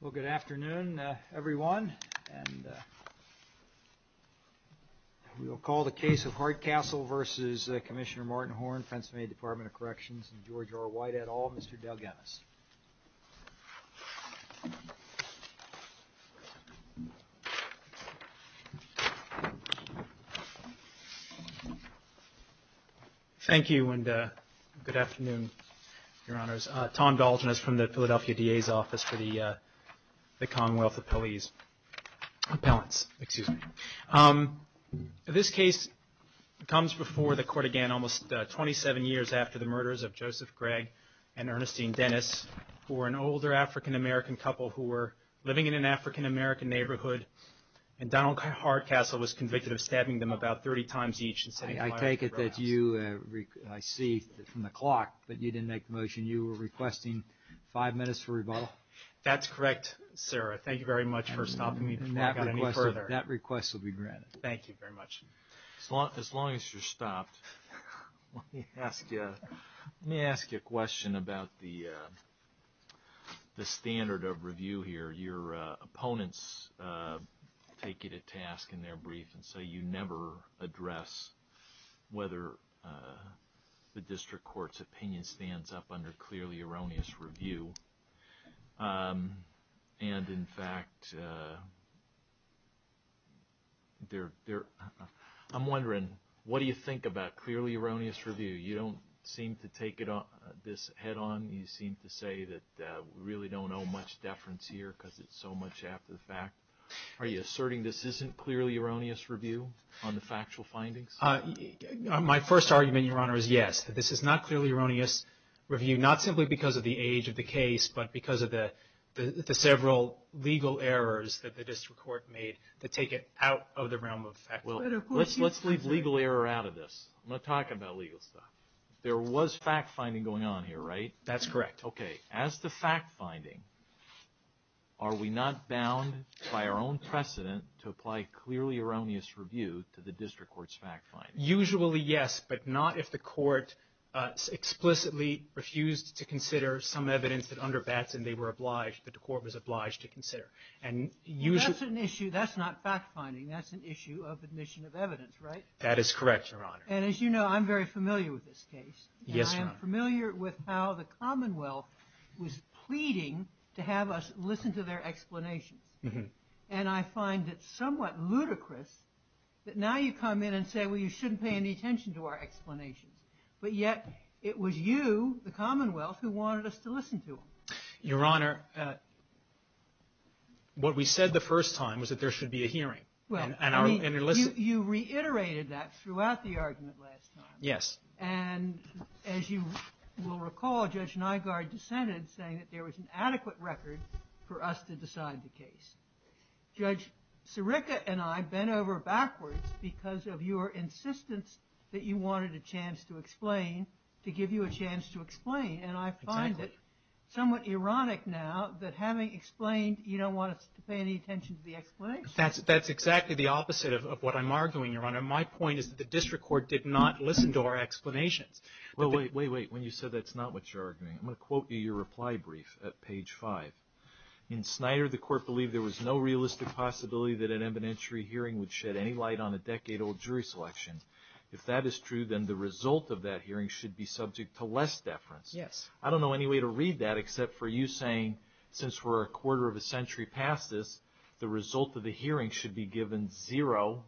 Well, good afternoon, everyone, and we'll call the case of Hardcastle v. Commissioner Thank you, and good afternoon, Your Honors. Tom Galgen is from the Philadelphia DA's Office for the Commonwealth of Pelleas Appellants. This case comes before the court again almost 27 years after the murders of Joseph Gregg and Ernestine Dennis for an older African-American couple who were living in an African-American neighborhood, and Donald Hardcastle was convicted of stabbing them about 30 times each and setting them to death. I see from the clock that you didn't make the motion, you were requesting five minutes for rebuttal? Tom Galgen That's correct, Sarah. Thank you very much for stopping me to talk about it any further. Tom Galgen That request will be granted. Tom Galgen Thank you very much. As long as you're stopped, let me ask you a question about the standard of review here. Your opponents take it at task in their brief and say you never address whether the district court's opinion stands up under clearly erroneous review, and in fact, I'm wondering, what do you think about clearly erroneous review? You don't seem to take this head-on, you seem to say that we really don't owe much deference here because it's so much after the fact. Are you asserting this isn't clearly erroneous review on the factual findings? Tom Galgen My first argument, Your Honor, is yes, that this is not clearly erroneous review, not simply because of the age of the case, but because of the several legal errors that the district court made to take it out of the realm of fact. Tom Galgen Let's leave legal error out of this. I'm not talking about legal stuff. There was fact-finding going on here, right? Tom Galgen That's correct. Okay. As to fact-finding, are we not bound by our own precedent to apply clearly erroneous review to the district court's fact-finding? Tom Galgen Usually, yes, but not if the court explicitly refused to consider some evidence that underbats and they were obliged, that the court was obliged to consider. And usually... Dr. Robert R. Reilly That's an issue. That's not fact-finding. That's an issue of admission of evidence, right? Tom Galgen That is correct, Your Honor. Dr. Robert R. Reilly And as you know, I'm very familiar with this case. Tom Galgen Yes, Your Honor. Dr. Robert R. Reilly And I'm familiar with how the Commonwealth was pleading to have us listen to their explanation. And I find it somewhat ludicrous that now you come in and say, well, you shouldn't pay any attention to our explanation, but yet it was you, the Commonwealth, who wanted us to listen to them. Tom Galgen Your Honor, what we said the first time was that there should be a hearing. Dr. Robert R. Reilly Right. Tom Galgen And our... Dr. Robert R. Reilly You reiterated that throughout the argument last time. Tom Galgen Yes. Dr. Robert R. Reilly And as you will recall, Judge Nygaard dissented saying that there was an adequate record for us to decide the case. Judge Sirica and I bent over backwards because of your insistence that you wanted a chance to explain, to give you a chance to explain, and I find it somewhat ironic now that having explained, you don't want us to pay any attention to the explanation. Tom Galgen That's exactly the opposite of what I'm arguing, Your Honor. My point is that the district court did not listen to our explanations. Judge Sirica Well, wait, wait, wait. When you said that's not what you're arguing, I'm going to quote you your reply brief at page 5. In Snyder, the court believed there was no realistic possibility that an evidentiary hearing would shed any light on a decade-old jury selection. If that is true, then the result of that hearing should be subject to less deference. Tom Galgen Yes. Judge Sirica I don't know any way to read that except for you saying, since we're a quarter of a century past this, the result of the hearing should be given zero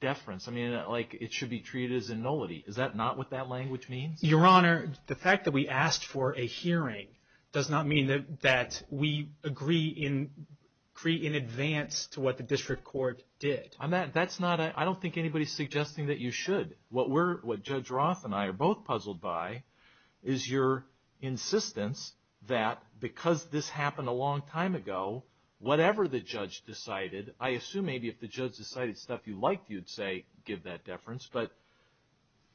deference. I mean, like it should be treated as a nullity. Is that not what that language means? Tom Galgen Your Honor, the fact that we asked for a hearing does not mean that we agree in advance to what the district court did. Judge Sirica I don't think anybody's suggesting that you should. What Judge Roth and I are both puzzled by is your insistence that because this happened a long time ago, whatever the judge decided, I assume maybe if the judge decided stuff you liked, you'd say, give that deference. But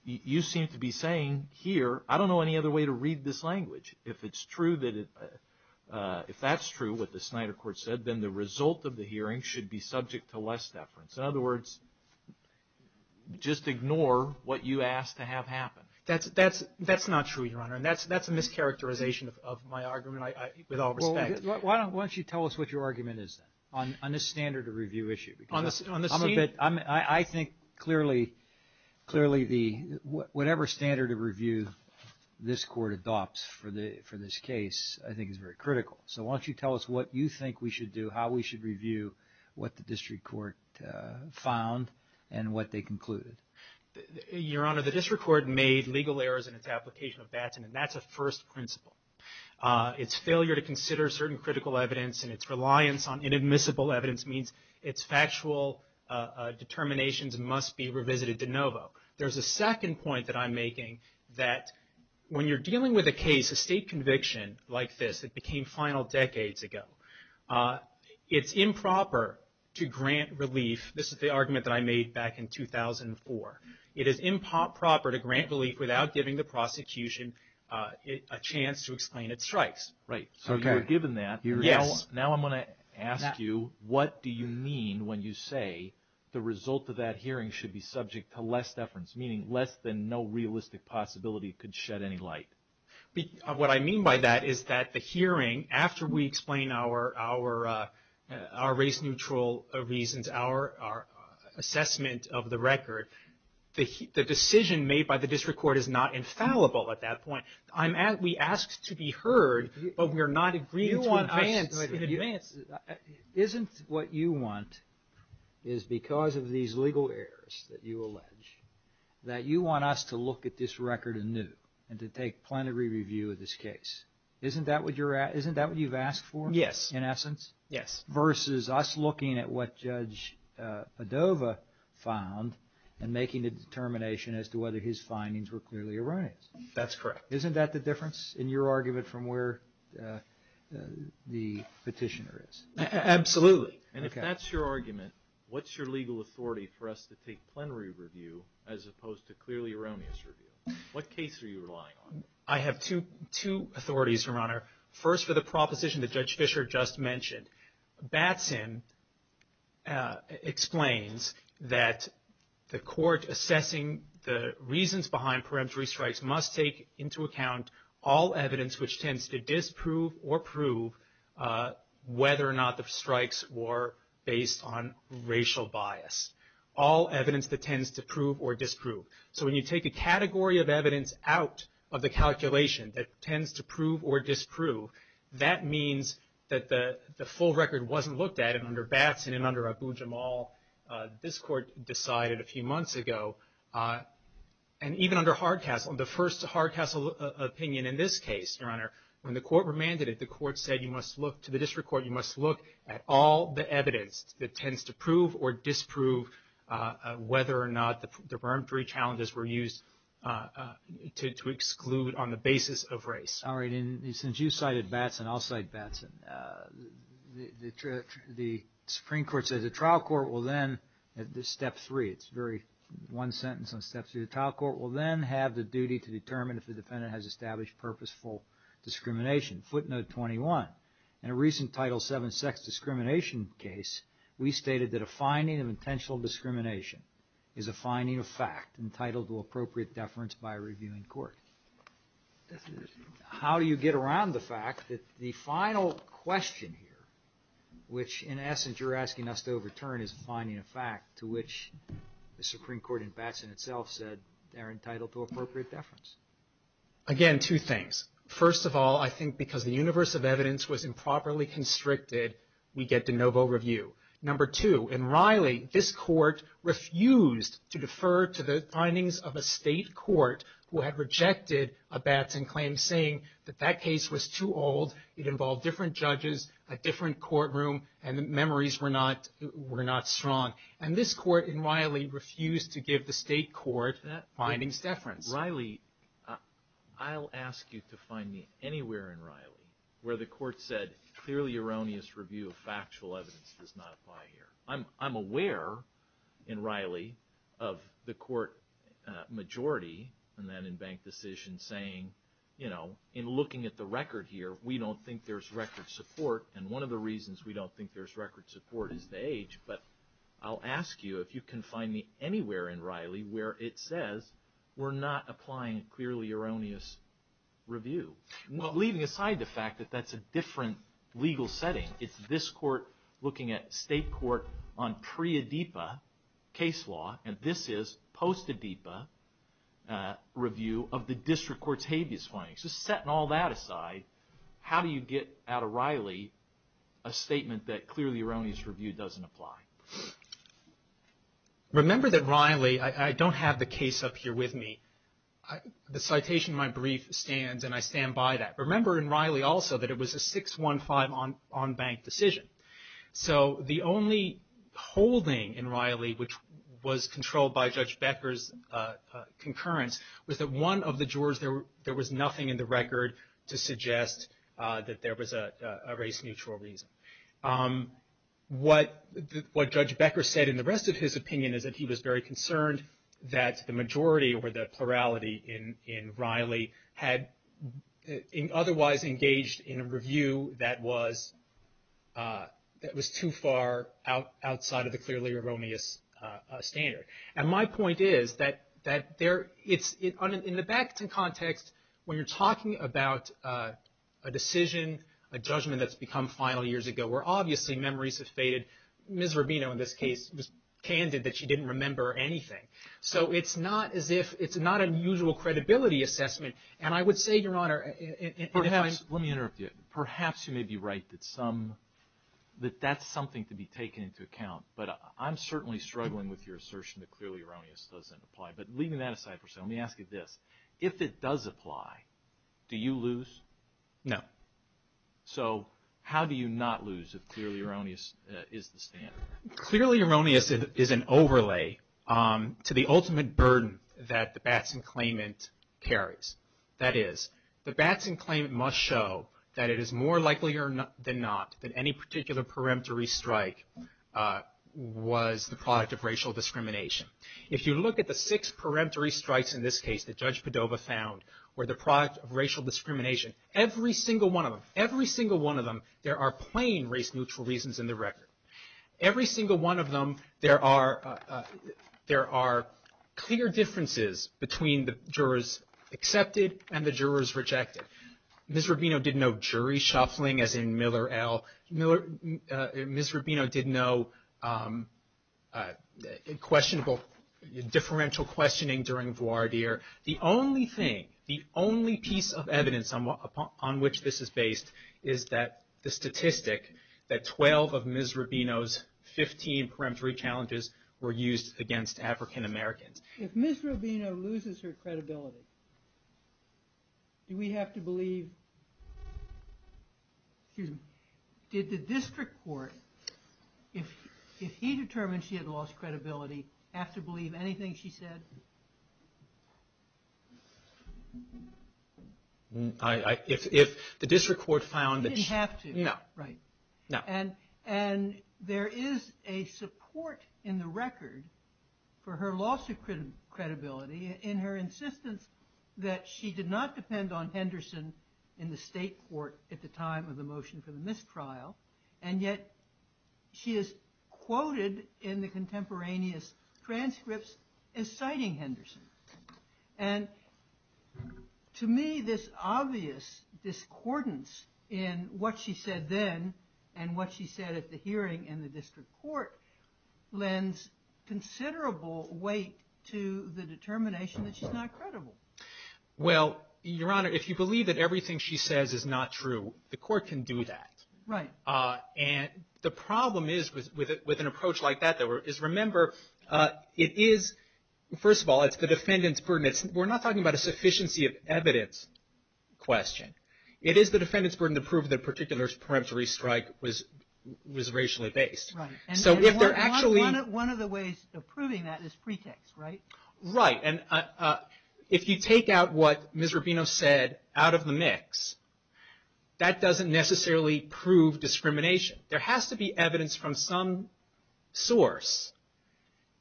you seem to be saying here, I don't know any other way to read this language. If it's true that it – if that's true, what the Snyder court said, then the result of the hearing should be subject to less deference. In other words, just ignore what you asked to have happen. Tom Galgen That's not true, Your Honor, and that's a mischaracterization of my argument with all respect. Judge Sirica Well, why don't you tell us what your argument is on this standard of review issue? Tom Galgen I think clearly the – whatever standard of review this court adopts for this case I think is very critical. So why don't you tell us what you think we should do, how we should review what the district court found and what they concluded? Judge Sirica Your Honor, the district court made legal errors in its application of Batson, and that's a first principle. Its failure to consider certain critical evidence and its reliance on inadmissible evidence means its factual determinations must be revisited de novo. There's a second point that I'm making that when you're dealing with a case, a state conviction like this that became final decades ago, it's improper to grant relief – this is the argument that I made back in 2004 – it is improper to grant relief without giving the prosecution a chance to explain its rights. Tom Galgen Right. Judge Sirica So you were given that. Tom Galgen Yes. Judge Sirica Now I'm going to ask you, what do you mean when you say the result of that hearing should be subject to less deference, meaning less than no realistic possibility could shed any light? Tom Galgen What I mean by that is that the hearing after we explain our race-neutral reasons, our assessment of the record, the decision made by the district court is not infallible at that point. I'm – we asked to be heard, but we are not agreed to it in advance. Judge Sirica You want – isn't what you want is because of these legal errors that you allege, that you want us to look at this record anew and to take plenary review of this case, isn't that what you're – isn't that what you've asked for? Tom Galgen Yes. Judge Sirica In essence? Tom Galgen Yes. Judge Sirica Versus us looking at what Judge Edova found and making a determination as to whether his findings were clearly erroneous. Tom Galgen That's correct. Judge Sirica Isn't that the difference in your argument from where the petitioner is? Tom Galgen Absolutely. And if that's your argument, what's your legal authority for us to take plenary review as opposed to clearly erroneous review? What case are you relying on? Tom Galgen I have two authorities, Your Honor. First for the proposition that Judge Fischer just mentioned. Batson explains that the court assessing the reasons behind preemptory strikes must take into account all evidence which tends to disprove or prove whether or not the strikes were based on racial bias. All evidence that tends to prove or disprove. So when you take a category of evidence out of the calculation that tends to prove or disprove, that means that the full record wasn't looked at. And under Batson and under Abu-Jamal, this court decided a few months ago. And even under Hardcastle, the first Hardcastle opinion in this case, Your Honor, when the court remanded it, the court said you must look to the district court, you must look at all the evidence that tends to prove or disprove whether or not the preemptory challenges were used to exclude on the basis of race. Judge Sirica All right. And since you cited Batson, I'll cite Batson. The Supreme Court said the trial court will then, at this step three, it's a very one sentence on steps of the trial court, will then have the duty to determine if the defendant has established purposeful discrimination. Footnote 21. In a recent Title VII sex discrimination case, we stated that a finding of intentional discrimination is a finding of fact entitled to appropriate deference by a reviewing court. How do you get around the fact that the final question here, which in essence you're asking us to overturn, is a finding of fact to which the Supreme Court and Batson itself said they're entitled to appropriate deference? Judge Sirica Again, two things. First of all, I think because the universe of evidence was improperly constricted, we get the NoVo review. Number two, in Riley, this court refused to defer to the findings of a state court who had rejected a Batson claim saying that that case was too old, it involved different judges, a different courtroom, and the memories were not strong. And this court in Riley refused to give the state court findings deference. Judge Silica Riley, I'll ask you to find me anywhere in Riley where the court said clearly erroneous review of factual evidence does not apply here. I'm aware in Riley of the court majority and then in bank decision saying, you know, in looking at the record here, we don't think there's record support, and one of the reasons we don't think there's record support is the age. But I'll ask you if you can find me anywhere in Riley where it says we're not applying clearly erroneous review, leaving aside the fact that that's a different legal setting. It's this court looking at state court on pre-ADIPA case law, and this is post-ADIPA review of the district court's habeas findings. Just setting all that aside, how do you get out of Riley a statement that clearly erroneous review doesn't apply? Remember that Riley, I don't have the case up here with me. The citation in my brief stands, and I stand by that. Remember in Riley also that it was a 6-1-5 on bank decision. So the only holding in Riley which was controlled by Judge Becker's concurrence was that one of the jurors, there was nothing in the record to suggest that there was a race-neutral reason. What Judge Becker said in the rest of his opinion is that he was very concerned that the majority or the plurality in Riley had otherwise engaged in a review that was too far outside of the clearly erroneous standard. And my point is that in the Baxton context, when you're talking about a decision, a judgment that's become final years ago, where obviously memories have faded, Ms. Rubino in this case was candid that she didn't remember anything. So it's not as if it's not a mutual credibility assessment. And I would say, Your Honor, perhaps you may be right that that's something to be taken into account, but I'm certainly struggling with your assertion that clearly erroneous doesn't apply. But leaving that aside for a second, let me ask you this. If it does apply, do you lose? No. So how do you not lose if clearly erroneous is the standard? Clearly erroneous is an overlay to the ultimate burden that the Baxton claimant carries. That is, the Baxton claimant must show that it is more likely than not that any particular peremptory strike was the product of racial discrimination. If you look at the six peremptory strikes in this case that Judge Padova found were the product of racial discrimination, every single one of them, every single one of them, there are plain race-neutral reasons in the record. Every single one of them, there are clear differences between the jurors accepted and the jurors rejected. Ms. Rubino did no jury shuffling, as in Miller, L. Ms. Rubino did no differential questioning during voir dire. The only thing, the only piece of evidence on which this is based is that the statistic that 12 of Ms. Rubino's 15 peremptory challenges were used against African Americans. If Ms. Rubino loses her credibility, do we have to believe... Did the district court, if he determined she had lost credibility, have to believe anything she said? If the district court found that she... She didn't have to. No. Right. No. And there is a support in the record for her loss of credibility in her insistence that she did not depend on Henderson in the state court at the time of the motion for the mistrial, and yet she is quoted in the contemporaneous transcripts as citing Henderson. And to me, this obvious discordance in what she said then and what she said at the hearing in the district court lends considerable weight to the determination that she's not credible. Well, Your Honor, if you believe that everything she says is not true, the court can do that. Right. And the problem is, with an approach like that, is remember, it is, first of all, it's the defendant's burden. We're not talking about a sufficiency of evidence question. It is the defendant's burden to prove that a particular peremptory strike was racially based. Right. And one of the ways of proving that is pretext, right? Right. And if you take out what Ms. Rubino said out of the mix, that doesn't necessarily prove discrimination. There has to be evidence from some source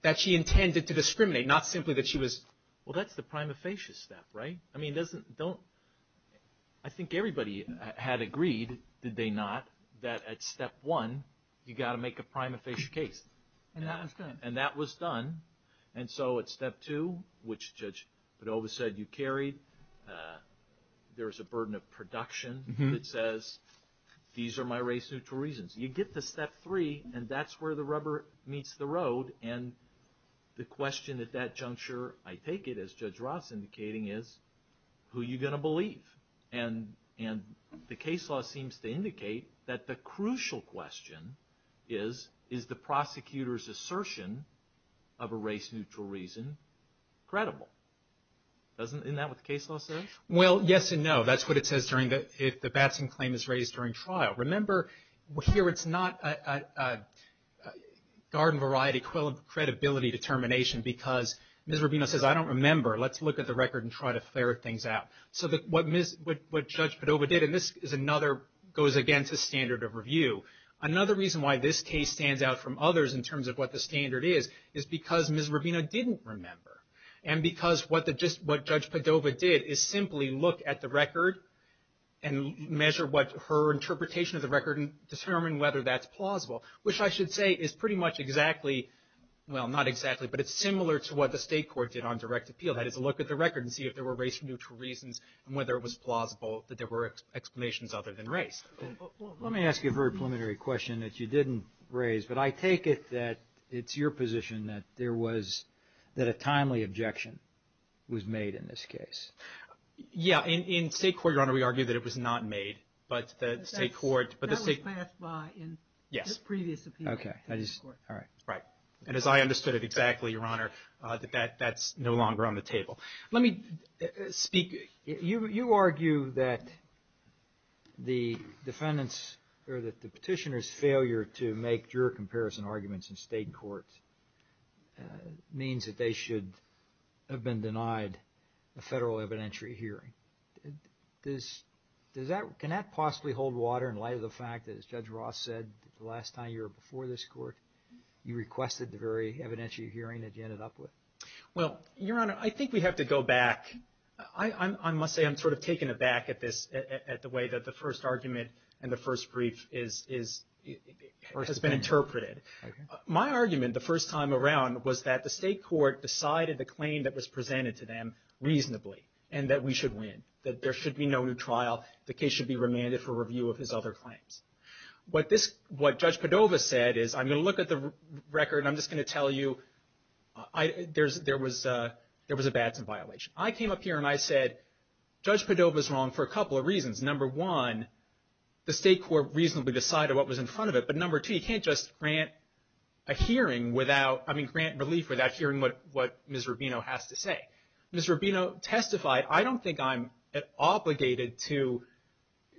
that she intended to discriminate, not simply that she was – Well, that's the prima facie step, right? I mean, doesn't – don't – I think everybody had agreed, did they not, that at step one, you've got to make a prima facie case. And that was done. And so at step two, which Judge Vidova said you carried, there's a burden of production that says, these are my race and for reasons. You get to step three, and that's where the rubber meets the road. And the question at that juncture, I take it, as Judge Roth's indicating, is, who are you going to believe? And the case law seems to indicate that the crucial question is, is the prosecutor's claim of a race-neutral reason credible? Doesn't – isn't that what the case law says? Well, yes and no. That's what it says during the – if the Batson claim is raised during trial. Remember, here it's not a garden-variety credibility determination because Ms. Rubino says, I don't remember. Let's look at the record and try to flare things out. So what Ms. – what Judge Vidova did, and this is another – goes against the standard of review. Another reason why this case stands out from others in terms of what the standard is, is because Ms. Rubino didn't remember, and because what the – what Judge Vidova did is simply look at the record and measure what her interpretation of the record and determine whether that's plausible, which I should say is pretty much exactly – well, not exactly, but it's similar to what the state court did on direct appeal. They had to look at the record and see if there were race-neutral reasons and whether it was plausible that there were explanations other than race. Let me ask you a very preliminary question that you didn't raise, but I take it that it's your position that there was – that a timely objection was made in this case. Yeah, in state court, Your Honor, we argue that it was not made, but the state court – That was passed by in – Yes. – the previous appeal. Okay. I just – all right. Right. And as I understood it exactly, Your Honor, that that's no longer on the table. Let me speak – you argue that the defendant's – or that the petitioner's failure to make juror comparison arguments in state courts means that they should have been denied a federal evidentiary hearing. Does that – can that possibly hold water in light of the fact that, as Judge Ross said the last time you were before this court, you requested the very evidentiary hearing that you ended up with? Well, Your Honor, I think we have to go back. I must say I'm sort of taken aback at this – at the way that the first argument and the first brief is – or has been interpreted. Okay. My argument the first time around was that the state court decided the claim that was presented to them reasonably and that we should win, that there should be no new trial. The case should be remanded for review of his other claims. What this – what Judge Cordova said is – I'm going to look at the record. I'm just going to tell you there was a bathroom violation. I came up here and I said, Judge Cordova's wrong for a couple of reasons. Number one, the state court reasonably decided what was in front of it. But number two, you can't just grant a hearing without – I mean, grant relief without hearing what Ms. Rubino has to say. Ms. Rubino testified. I don't think I'm obligated to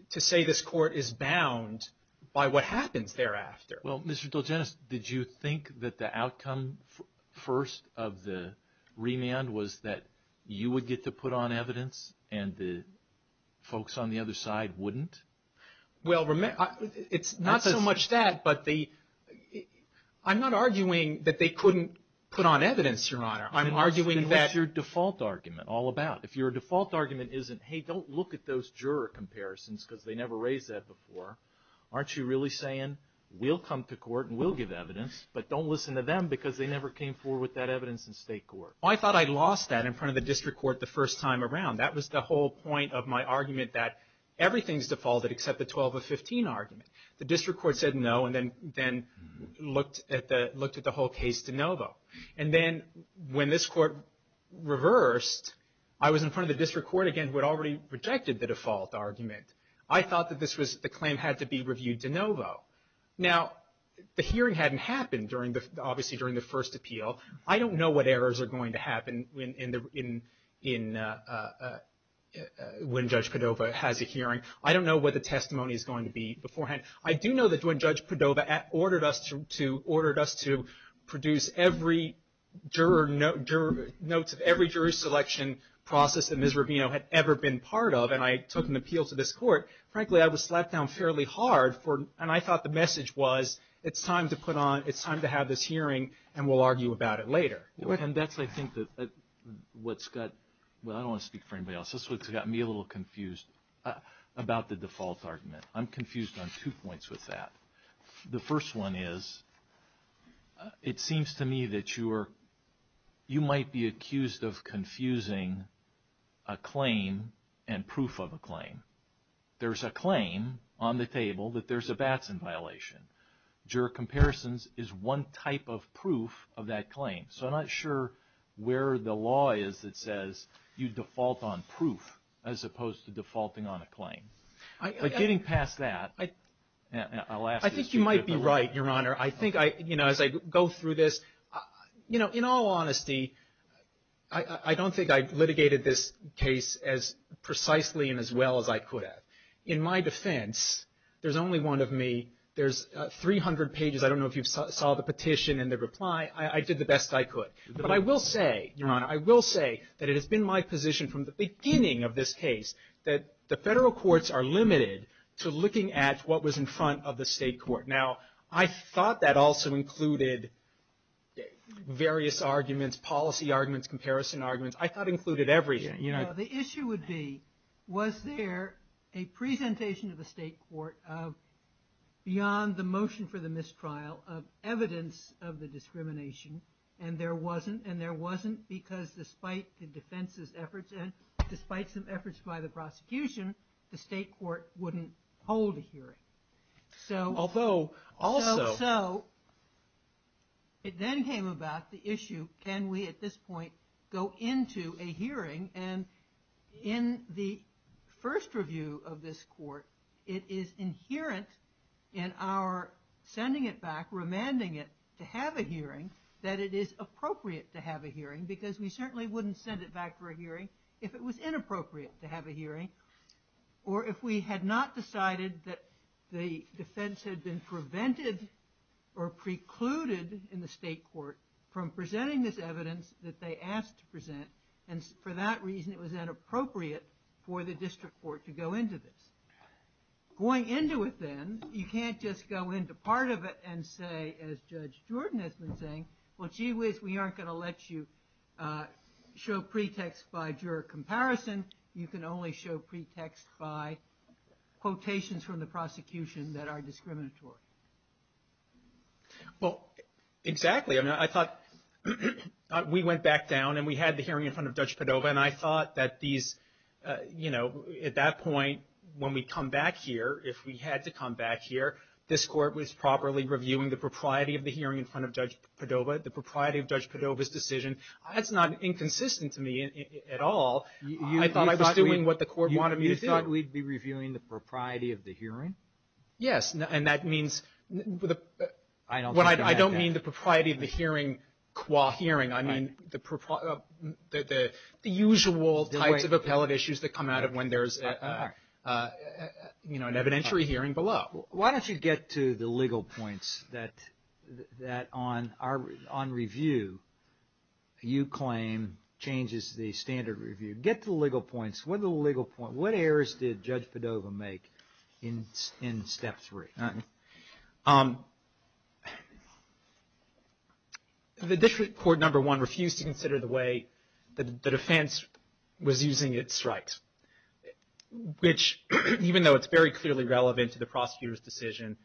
say this court is bound by what happens thereafter. Well, Mr. DelGennis, did you think that the outcome first of the remand was that you would get to put on evidence and the folks on the other side wouldn't? Well, it's not so much that, but the – I'm not arguing that they couldn't put on evidence, Your Honor. I'm arguing that – That's your default argument all about. If your default argument isn't, hey, don't look at those juror comparisons because they never raised that before. Aren't you really saying we'll come to court and we'll give evidence, but don't listen to them because they never came forward with that evidence in state court? Well, I thought I lost that in front of the district court the first time around. That was the whole point of my argument that everything's defaulted except the 12 of 15 argument. The district court said no and then looked at the whole case de novo. And then when this court reversed, I was in front of the district court again who had already rejected the default argument. I thought that this was – the claim had to be reviewed de novo. Now, the hearing hadn't happened during the – obviously during the first appeal. I don't know what errors are going to happen in – when Judge Padova has a hearing. I don't know what the testimony is going to be beforehand. I do know that when Judge Padova ordered us to produce every juror – notes of every juror selection process that Ms. Rubino had ever been part of, and I took an appeal to this court, frankly, I was slapped down fairly hard for – and I thought the message was it's time to put on – it's time to have this hearing and we'll argue about it later. And that's, I think, what's got – I don't want to speak for anybody else. That's what's got me a little confused about the default argument. I'm confused on two points with that. The first one is it seems to me that you are – you might be accused of confusing a claim and proof of a claim. There's a claim on the table that there's a Batson violation. Juror comparisons is one type of proof of that claim. So I'm not sure where the law is that says you default on proof as opposed to defaulting on a claim. But getting past that, I'll ask – I think you might be right, Your Honor. I think I – as I go through this, in all honesty, I don't think I litigated this case as precisely and as well as I could have. In my defense, there's only one of me. There's 300 pages. I don't know if you saw the petition and the reply. I did the best I could. But I will say, Your Honor, I will say that it has been my position from the beginning of this case that the federal courts are limited to looking at what was in front of the state court. Now, I thought that also included various arguments, policy arguments, comparison arguments. I thought it included everything. The issue would be, was there a presentation of the state court beyond the motion for the mistrial of evidence of the discrimination? And there wasn't, and there wasn't because despite the defense's efforts and despite some efforts by the prosecution, the state court wouldn't hold a hearing. So – Although – So it then came about the issue, can we at this point go into a hearing? And in the first review of this court, it is inherent in our sending it back, remanding it to have a hearing, that it is appropriate to have a hearing because we certainly wouldn't send it back for a hearing if it was inappropriate to have a hearing or if we had not decided that the defense had been prevented or precluded in the state court from presenting this evidence that they asked to present, and for that reason it was inappropriate for the district court to go into this. Going into it then, you can't just go into part of it and say, as Judge Jordan has been saying, well, gee whiz, we aren't going to let you show pretext by juror comparison. You can only show pretext by quotations from the prosecution that are discriminatory. Well, exactly. I mean, I thought we went back down and we had the hearing in front of Judge Padova, and I thought that these, you know, at that point when we come back here, if we had to come back here, this court was properly reviewing the propriety of the hearing in front of Judge Padova, the propriety of Judge Padova's decision. That's not inconsistent to me at all. I thought I was doing what the court wanted me to do. You thought we'd be reviewing the propriety of the hearing? Yes, and that means, I don't mean the propriety of the hearing qua hearing. I mean the usual types of appellate issues that come out of when there's, you know, an evidentiary hearing below. Why don't you get to the legal points that on review you claim changes the standard review. Get to the legal points. What are the legal points? What errors did Judge Padova make in step three? The district court, number one, refused to consider the way the defense was using its strikes, which even though it's very clearly relevant to the prosecutor's decision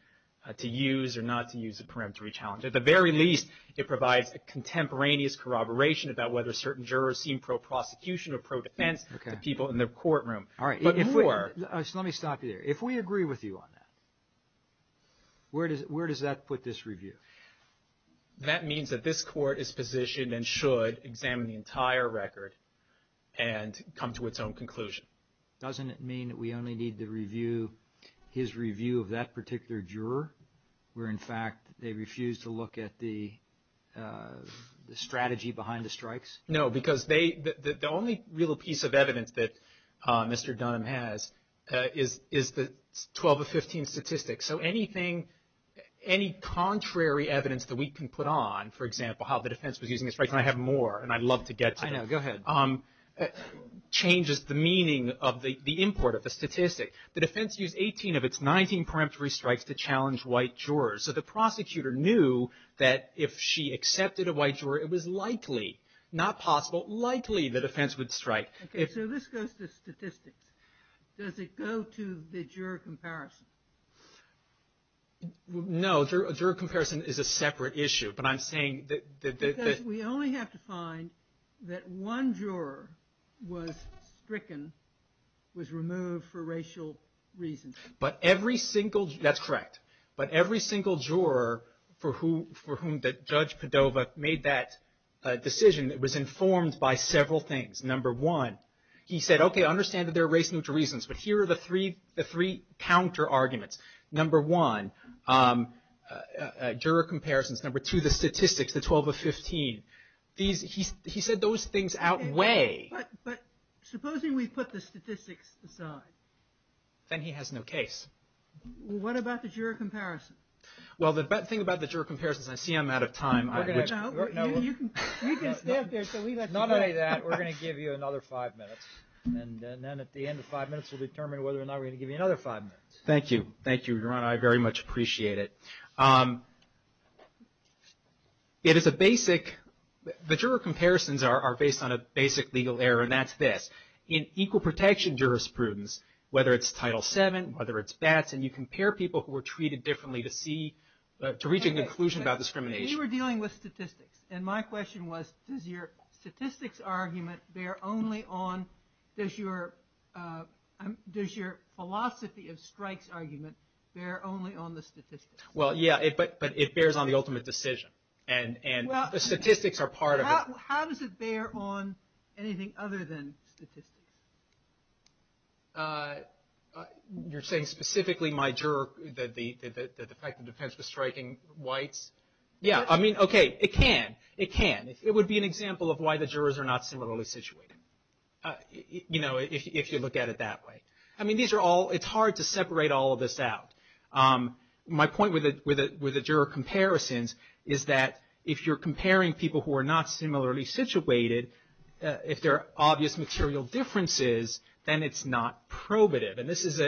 to use or not to use a preemptory challenge, at the very least it provides a contemporaneous corroboration about whether certain jurors seem pro-prosecution or pro-defense to people in the courtroom. All right. Let me stop you there. If we agree with you on that, where does that put this review? That means that this court is positioned and should examine the entire record and come to its own conclusion. Doesn't it mean that we only need to review his review of that particular juror where, in fact, they refused to look at the strategy behind the strikes? No, because the only real piece of evidence that Mr. Dunham has is the 12 of 15 statistics. So anything, any contrary evidence that we can put on, for example, how the defense was using the strikes, and I have more, and I'd love to get to that. I know. Go ahead. It changes the meaning of the import of the statistics. The defense used 18 of its 19 preemptory strikes to challenge white jurors. So the prosecutor knew that if she accepted a white juror, it was likely, not possible, likely the defense would strike. Okay. So this goes to statistics. Does it go to the juror comparison? No. A juror comparison is a separate issue, but I'm saying that the – Because we only have to find that one juror was stricken, was removed for racial reasons. But every single – that's correct. But every single juror for whom Judge Padova made that decision was informed by several things. Number one, he said, okay, I understand that there are race neutral reasons, but here are the three counter arguments. Number one, juror comparisons. Number two, the statistics, the 12 of 15. He said those things outweigh. But supposing we put the statistics aside? Then he has no case. What about the juror comparison? Well, the thing about the juror comparisons, I see I'm out of time. We can skip this. None of that. We're going to give you another five minutes. And then at the end of five minutes, we'll determine whether or not we're going to give you another five minutes. Thank you. Thank you, Your Honor. I very much appreciate it. It is a basic – the juror comparisons are based on a basic legal error, and that's this. In equal protection jurisprudence, whether it's Title VII, whether it's that, and you compare people who were treated differently to see – to reach a conclusion about discrimination. But you were dealing with statistics, and my question was, does your statistics argument bear only on – does your philosophy of strikes argument bear only on the statistics? Well, yeah, but it bears on the ultimate decision, and the statistics are part of it. How does it bear on anything other than statistics? You're saying specifically, my juror, that the fact that defense was striking whites? Yeah, I mean, okay, it can. It can. It would be an example of why the jurors are not similarly situated, you know, if you look at it that way. I mean, these are all – it's hard to separate all of this out. My point with the juror comparisons is that if you're comparing people who are not similarly situated, if there are obvious material differences, then it's not probative. And this is,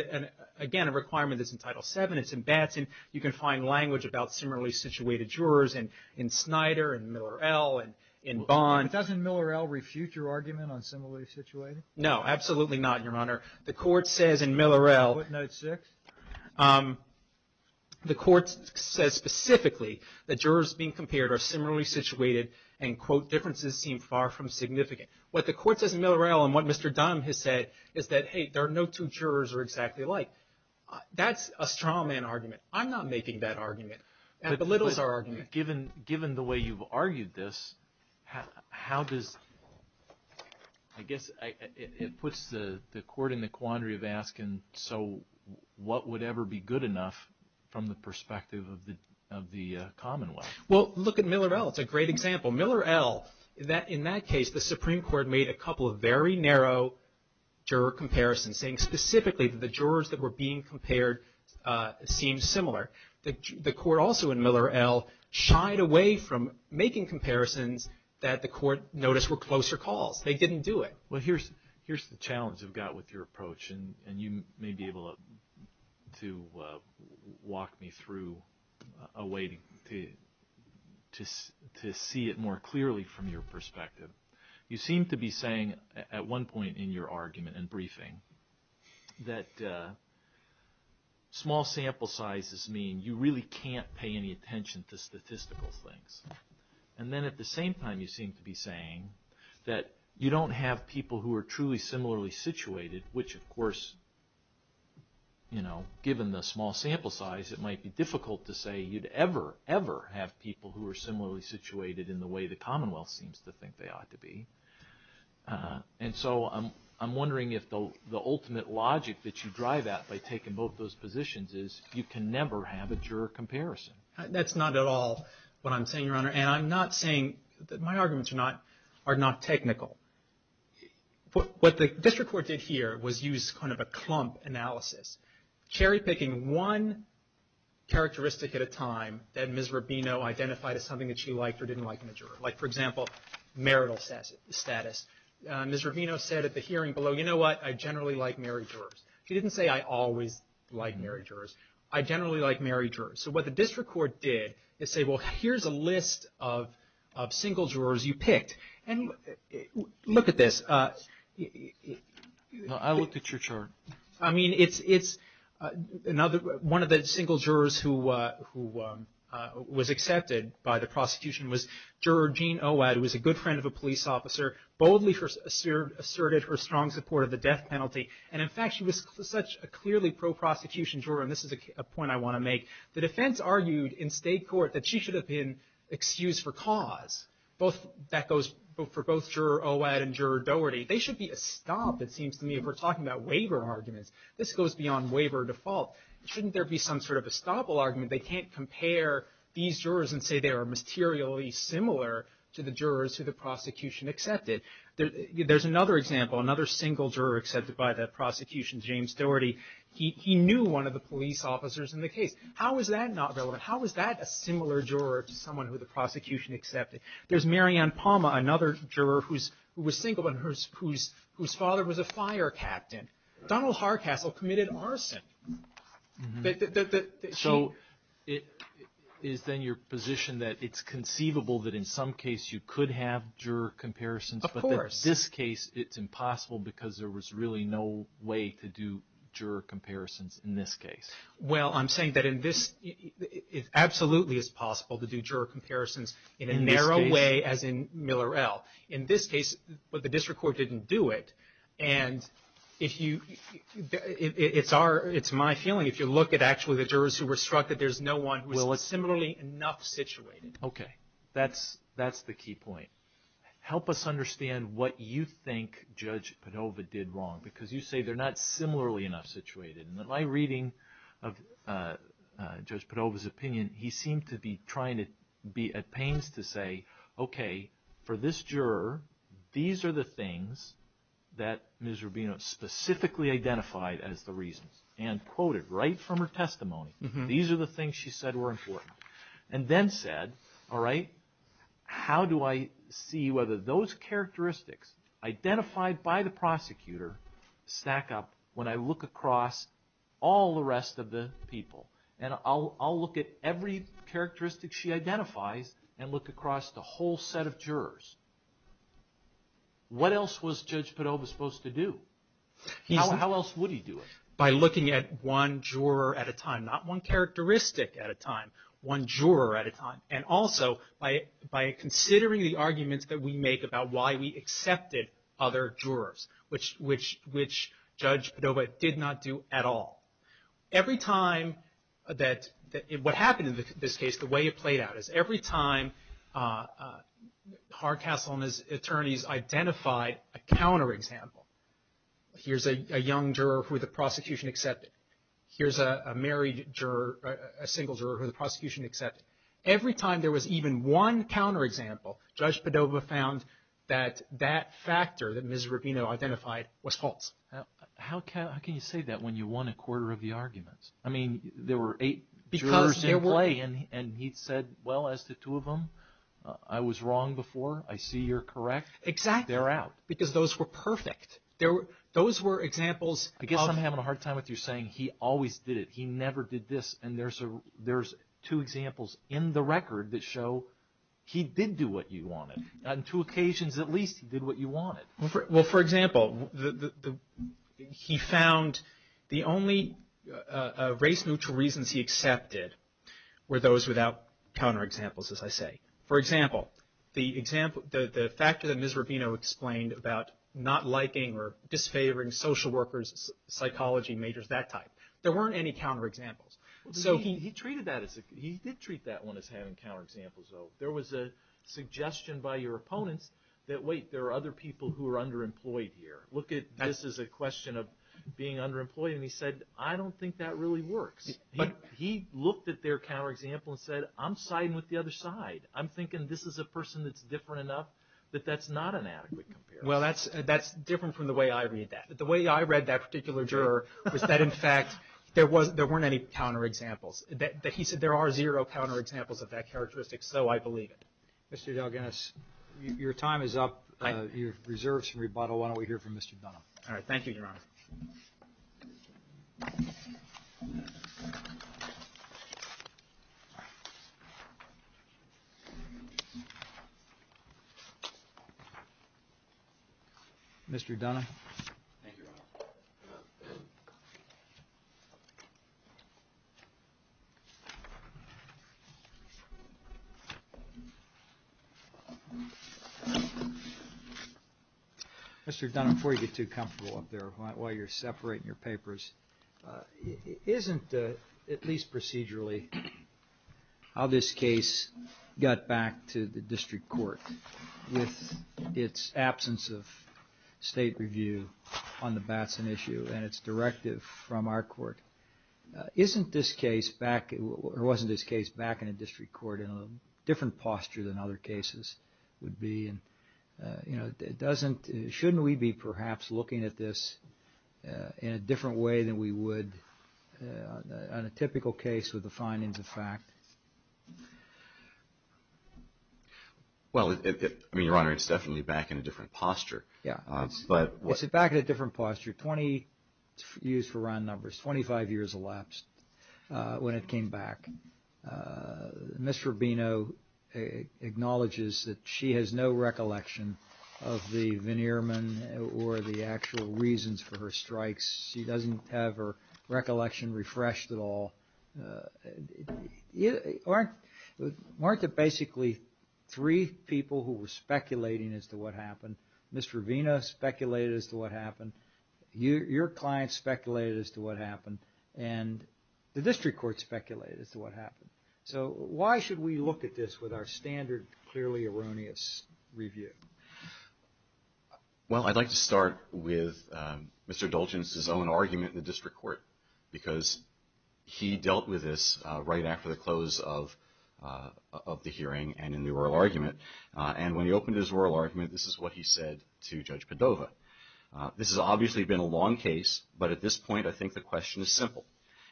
again, a requirement that's in Title VII. It's in Batson. You can find language about similarly situated jurors in Snyder and Miller-El and in Bond. Doesn't Miller-El refute your argument on similarly situated? No, absolutely not, Your Honor. The court says in Miller-El – What note six? The court says specifically that jurors being compared are similarly situated and, quote, differences seem far from significant. What the court says in Miller-El and what Mr. Dunn has said is that, hey, there are no two jurors are exactly alike. That's a straw man argument. I'm not making that argument. The littles are arguing it. Given the way you've argued this, how does – I guess it puts the court in the quandary of asking, so what would ever be good enough from the perspective of the commonwealth? Well, look at Miller-El. It's a great example. Miller-El, in that case, the Supreme Court made a couple of very narrow juror comparisons, saying specifically that the jurors that were being compared seemed similar. The court also in Miller-El shied away from making comparisons that the court noticed were closer calls. They didn't do it. Well, here's the challenge we've got with your approach, and you may be able to walk me through a way to see it more clearly from your perspective. You seem to be saying at one point in your argument and briefing that small sample sizes mean you really can't pay any attention to statistical things. And then at the same time, you seem to be saying that you don't have people who are truly similarly situated, which, of course, given the small sample size, it might be difficult to say you'd ever, ever have people who are similarly situated in the way the commonwealth seems to think they ought to be. And so I'm wondering if the ultimate logic that you drive at by taking both those positions is you can never have a juror comparison. That's not at all what I'm saying, Your Honor. And I'm not saying that my arguments are not technical. What the district court did here was use kind of a clump analysis, cherry-picking one characteristic at a time that Ms. Rubino identified as something that she liked or didn't like in the juror. Like, for example, marital status. Ms. Rubino said at the hearing below, you know what, I generally like married jurors. She didn't say I always like married jurors. I generally like married jurors. So what the district court did is say, well, here's a list of single jurors you picked. And look at this. I looked at your chart. I mean, it's another one of the single jurors who was accepted by the prosecution was Juror Jean Owad, who was a good friend of a police officer, boldly asserted her strong support of the death penalty. And in fact, she was such a clearly pro-prosecution juror, and this is a point I want to make, the defense argued in state court that she should have been excused for cause. That goes for both Juror Owad and Juror Dougherty. They should be a stop, it seems to me, if we're talking about waiver arguments. This goes beyond waiver default. Shouldn't there be some sort of a stopple argument? They can't compare these jurors and say they are materially similar to the jurors who the prosecution accepted. There's another example, another single juror accepted by the prosecution, James Dougherty. He knew one of the police officers in the case. How is that not valid? How is that a similar juror to someone who the prosecution accepted? There's Mary Ann Palma, another juror who was single and whose father was a fire captain. Donald Hardcastle committed arson. So it is then your position that it's conceivable that in some case you could have juror comparisons, but that in this case it's impossible because there was really no way to do juror comparisons in this case. Well, I'm saying that in this, it absolutely is possible to do juror comparisons in a narrow way as in Miller-El. In this case, the district court didn't do it. And it's my feeling if you look at actually the jurors who were struck that there's no one who was similarly enough situated. Okay. That's the key point. Help us understand what you think Judge Padova did wrong because you say they're not similarly enough situated. In my reading of Judge Padova's opinion, he seemed to be trying to be at pains to say, okay, for this juror, these are the things that Ms. Rubino specifically identified as the reasons and quoted right from her testimony. These are the things she said were important. And then said, all right, how do I see whether those characteristics identified by the prosecutor stack up when I look across all the rest of the people? And I'll look at every characteristic she identifies and look across the whole set of jurors. What else was Judge Padova supposed to do? How else would he do it? By looking at one juror at a time. Not one characteristic at a time. One juror at a time. And also by considering the arguments that we make about why we accepted other jurors, which Judge Padova did not do at all. Every time that what happened in this case, the way it played out is every time Hardcastle and his attorneys identified a counter example. Here's a young juror who the prosecution accepted. Here's a married juror, a single juror who the prosecution accepted. Every time there was even one counter example, Judge Padova found that that factor that Ms. Rubino identified was false. How can you say that when you won a quarter of the arguments? I mean, there were eight jurors in play, and he said, well, as to two of them, I was wrong before. I see you're correct. Exactly. Because those were perfect. Those were examples. I guess I'm having a hard time with you saying he always did it. He never did this. And there's two examples in the record that show he did do what you wanted. On two occasions, at least, he did what you wanted. Well, for example, he found the only race-neutral reasons he accepted were those without counter examples, as I say. For example, the fact that Ms. Rubino explained about not liking or disfavoring social workers, psychology majors, that type. There weren't any counter examples. He did treat that one as having counter examples, though. There was a suggestion by your opponent that, wait, there are other people who are underemployed here. This is a question of being underemployed, and he said, I don't think that really works. He looked at their counter example and said, I'm siding with the other side. I'm thinking this is a person that's different enough that that's not an adequate comparison. Well, that's different from the way I read that. The way I read that particular juror was that, in fact, there weren't any counter examples. He said there are zero counter examples of that characteristic, so I believe it. Mr. DelGhiass, your time is up. You've reserved some rebuttal. Why don't we hear from Mr. Dunham? All right. Thank you, Your Honor. Thank you, Your Honor. Mr. Dunham? Thank you, Your Honor. Mr. Dunham, before you get too comfortable up there while you're separating your papers, isn't it, at least procedurally, how this case got back to the district court with its absence of state review on the Batson issue and its directive from our court? Isn't this case back – or wasn't this case back in the district court in a different posture than other cases would be? Shouldn't we be perhaps looking at this in a different way than we would on a typical case with the findings of fact? Well, Your Honor, it's definitely back in a different posture. Yeah. It's back in a different posture, 20 years for round numbers, 25 years elapsed when it came back. Ms. Rubino acknowledges that she has no recollection of the veneer men or the actual reasons for her strikes. She doesn't have her recollection refreshed at all. Martha, basically, three people who were speculating as to what happened. Ms. Rubino speculated as to what happened. Your client speculated as to what happened. And the district court speculated as to what happened. So why should we look at this with our standard, clearly erroneous review? Well, I'd like to start with Mr. Dulgence's own argument in the district court because he dealt with this right after the close of the hearing and in the oral argument. And when he opened his oral argument, this is what he said to Judge Cordova. This has obviously been a long case, but at this point, I think the question is simple.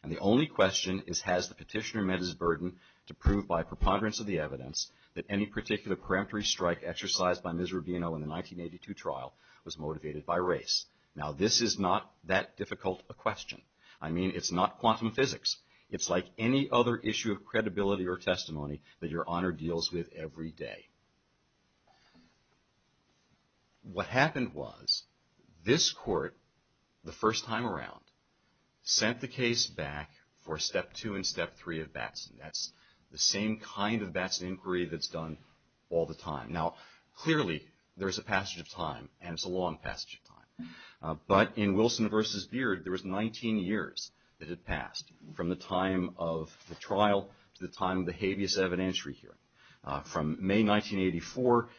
And the only question is, has the petitioner met his burden to prove by preponderance of the evidence that any particular parametric strike exercised by Ms. Rubino in the 1982 trial was motivated by race? Now, this is not that difficult a question. I mean, it's not quantum physics. It's like any other issue of credibility or testimony that Your Honor deals with every day. What happened was this court, the first time around, sent the case back for Step 2 and Step 3 of Batson. That's the same kind of Batson inquiry that's done all the time. Now, clearly, there's a passage of time, and it's a long passage of time. But in Wilson v. Deard, there was 19 years that it passed, from the time of the trial to the time of the habeas evidentiary hearing. From May 1984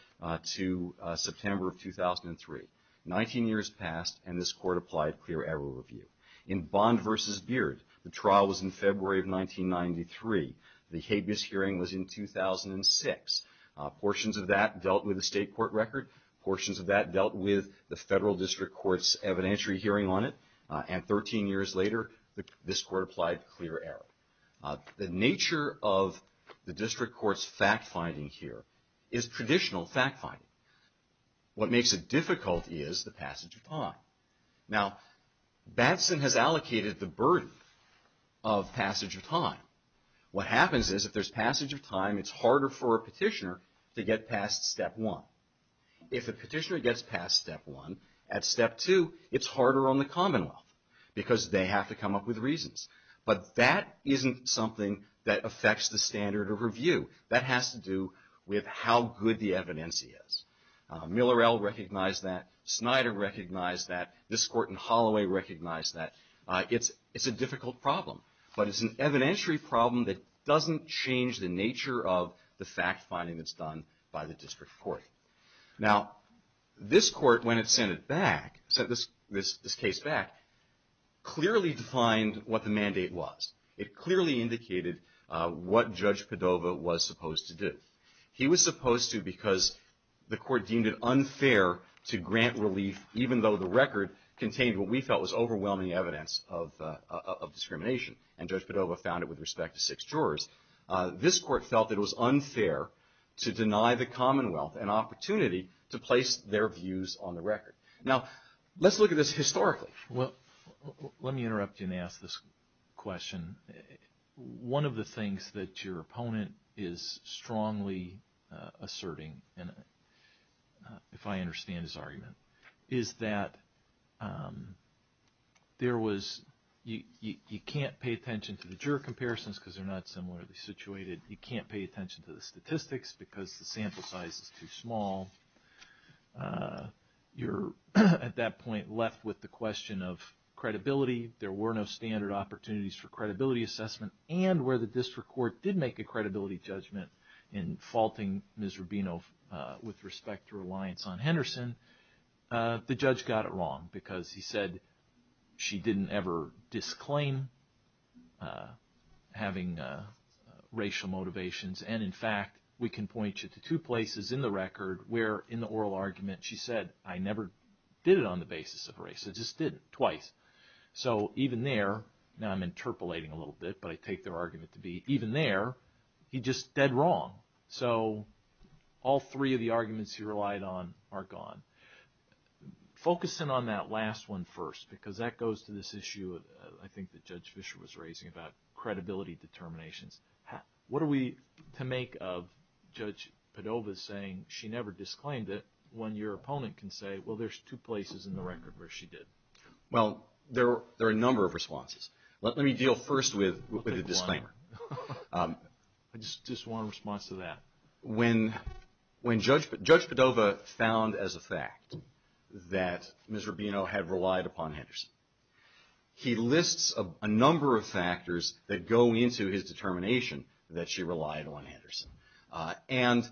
to September of 2003. Nineteen years passed, and this court applied clear error review. In Bond v. Deard, the trial was in February of 1993. The habeas hearing was in 2006. Portions of that dealt with the state court record. Portions of that dealt with the federal district court's evidentiary hearing on it. And 13 years later, this court applied clear error. The nature of the district court's fact-finding here is traditional fact-finding. What makes it difficult is the passage of time. Now, Batson has allocated the burden of passage of time. What happens is, if there's passage of time, it's harder for a petitioner to get past Step 1. If a petitioner gets past Step 1, at Step 2, it's harder on the Commonwealth, because they have to come up with reasons. But that isn't something that affects the standard of review. That has to do with how good the evidence is. Millerell recognized that. Snyder recognized that. This court in Holloway recognized that. It's a difficult problem. But it's an evidentiary problem that doesn't change the nature of the fact-finding that's done by the district court. Now, this court, when it sent this case back, clearly defined what the mandate was. It clearly indicated what Judge Padova was supposed to do. He was supposed to because the court deemed it unfair to grant relief, even though the record contained what we felt was overwhelming evidence of discrimination, and Judge Padova found it with respect to six jurors. This court felt it was unfair to deny the Commonwealth an opportunity to place their views on the record. Now, let's look at this historically. Well, let me interrupt you and ask this question. One of the things that your opponent is strongly asserting, if I understand his argument, is that you can't pay attention to the juror comparisons because they're not similarly situated. You can't pay attention to the statistics because the sample size is too small. You're, at that point, left with the question of credibility. There were no standard opportunities for credibility assessment. And where the district court did make a credibility judgment in faulting Ms. Rubino with respect to her reliance on Henderson, the judge got it wrong because he said she didn't ever disclaim having racial motivations. And, in fact, we can point you to two places in the record where, in the oral argument, she said, I never did it on the basis of race. I just did it twice. So even there, now I'm interpolating a little bit, but I take their argument to be even there, he just said wrong. So all three of the arguments he relied on are gone. Focus in on that last one first because that goes to this issue, I think, that Judge Fischer was raising about credibility determinations. What are we to make of Judge Padova saying she never disclaimed it when your opponent can say, well, there's two places in the record where she did? Well, there are a number of responses. Let me deal first with a disclaimer. I just want a response to that. When Judge Padova found as a fact that Ms. Rubino had relied upon Henderson, he lists a number of factors that go into his determination that she relied on Henderson. And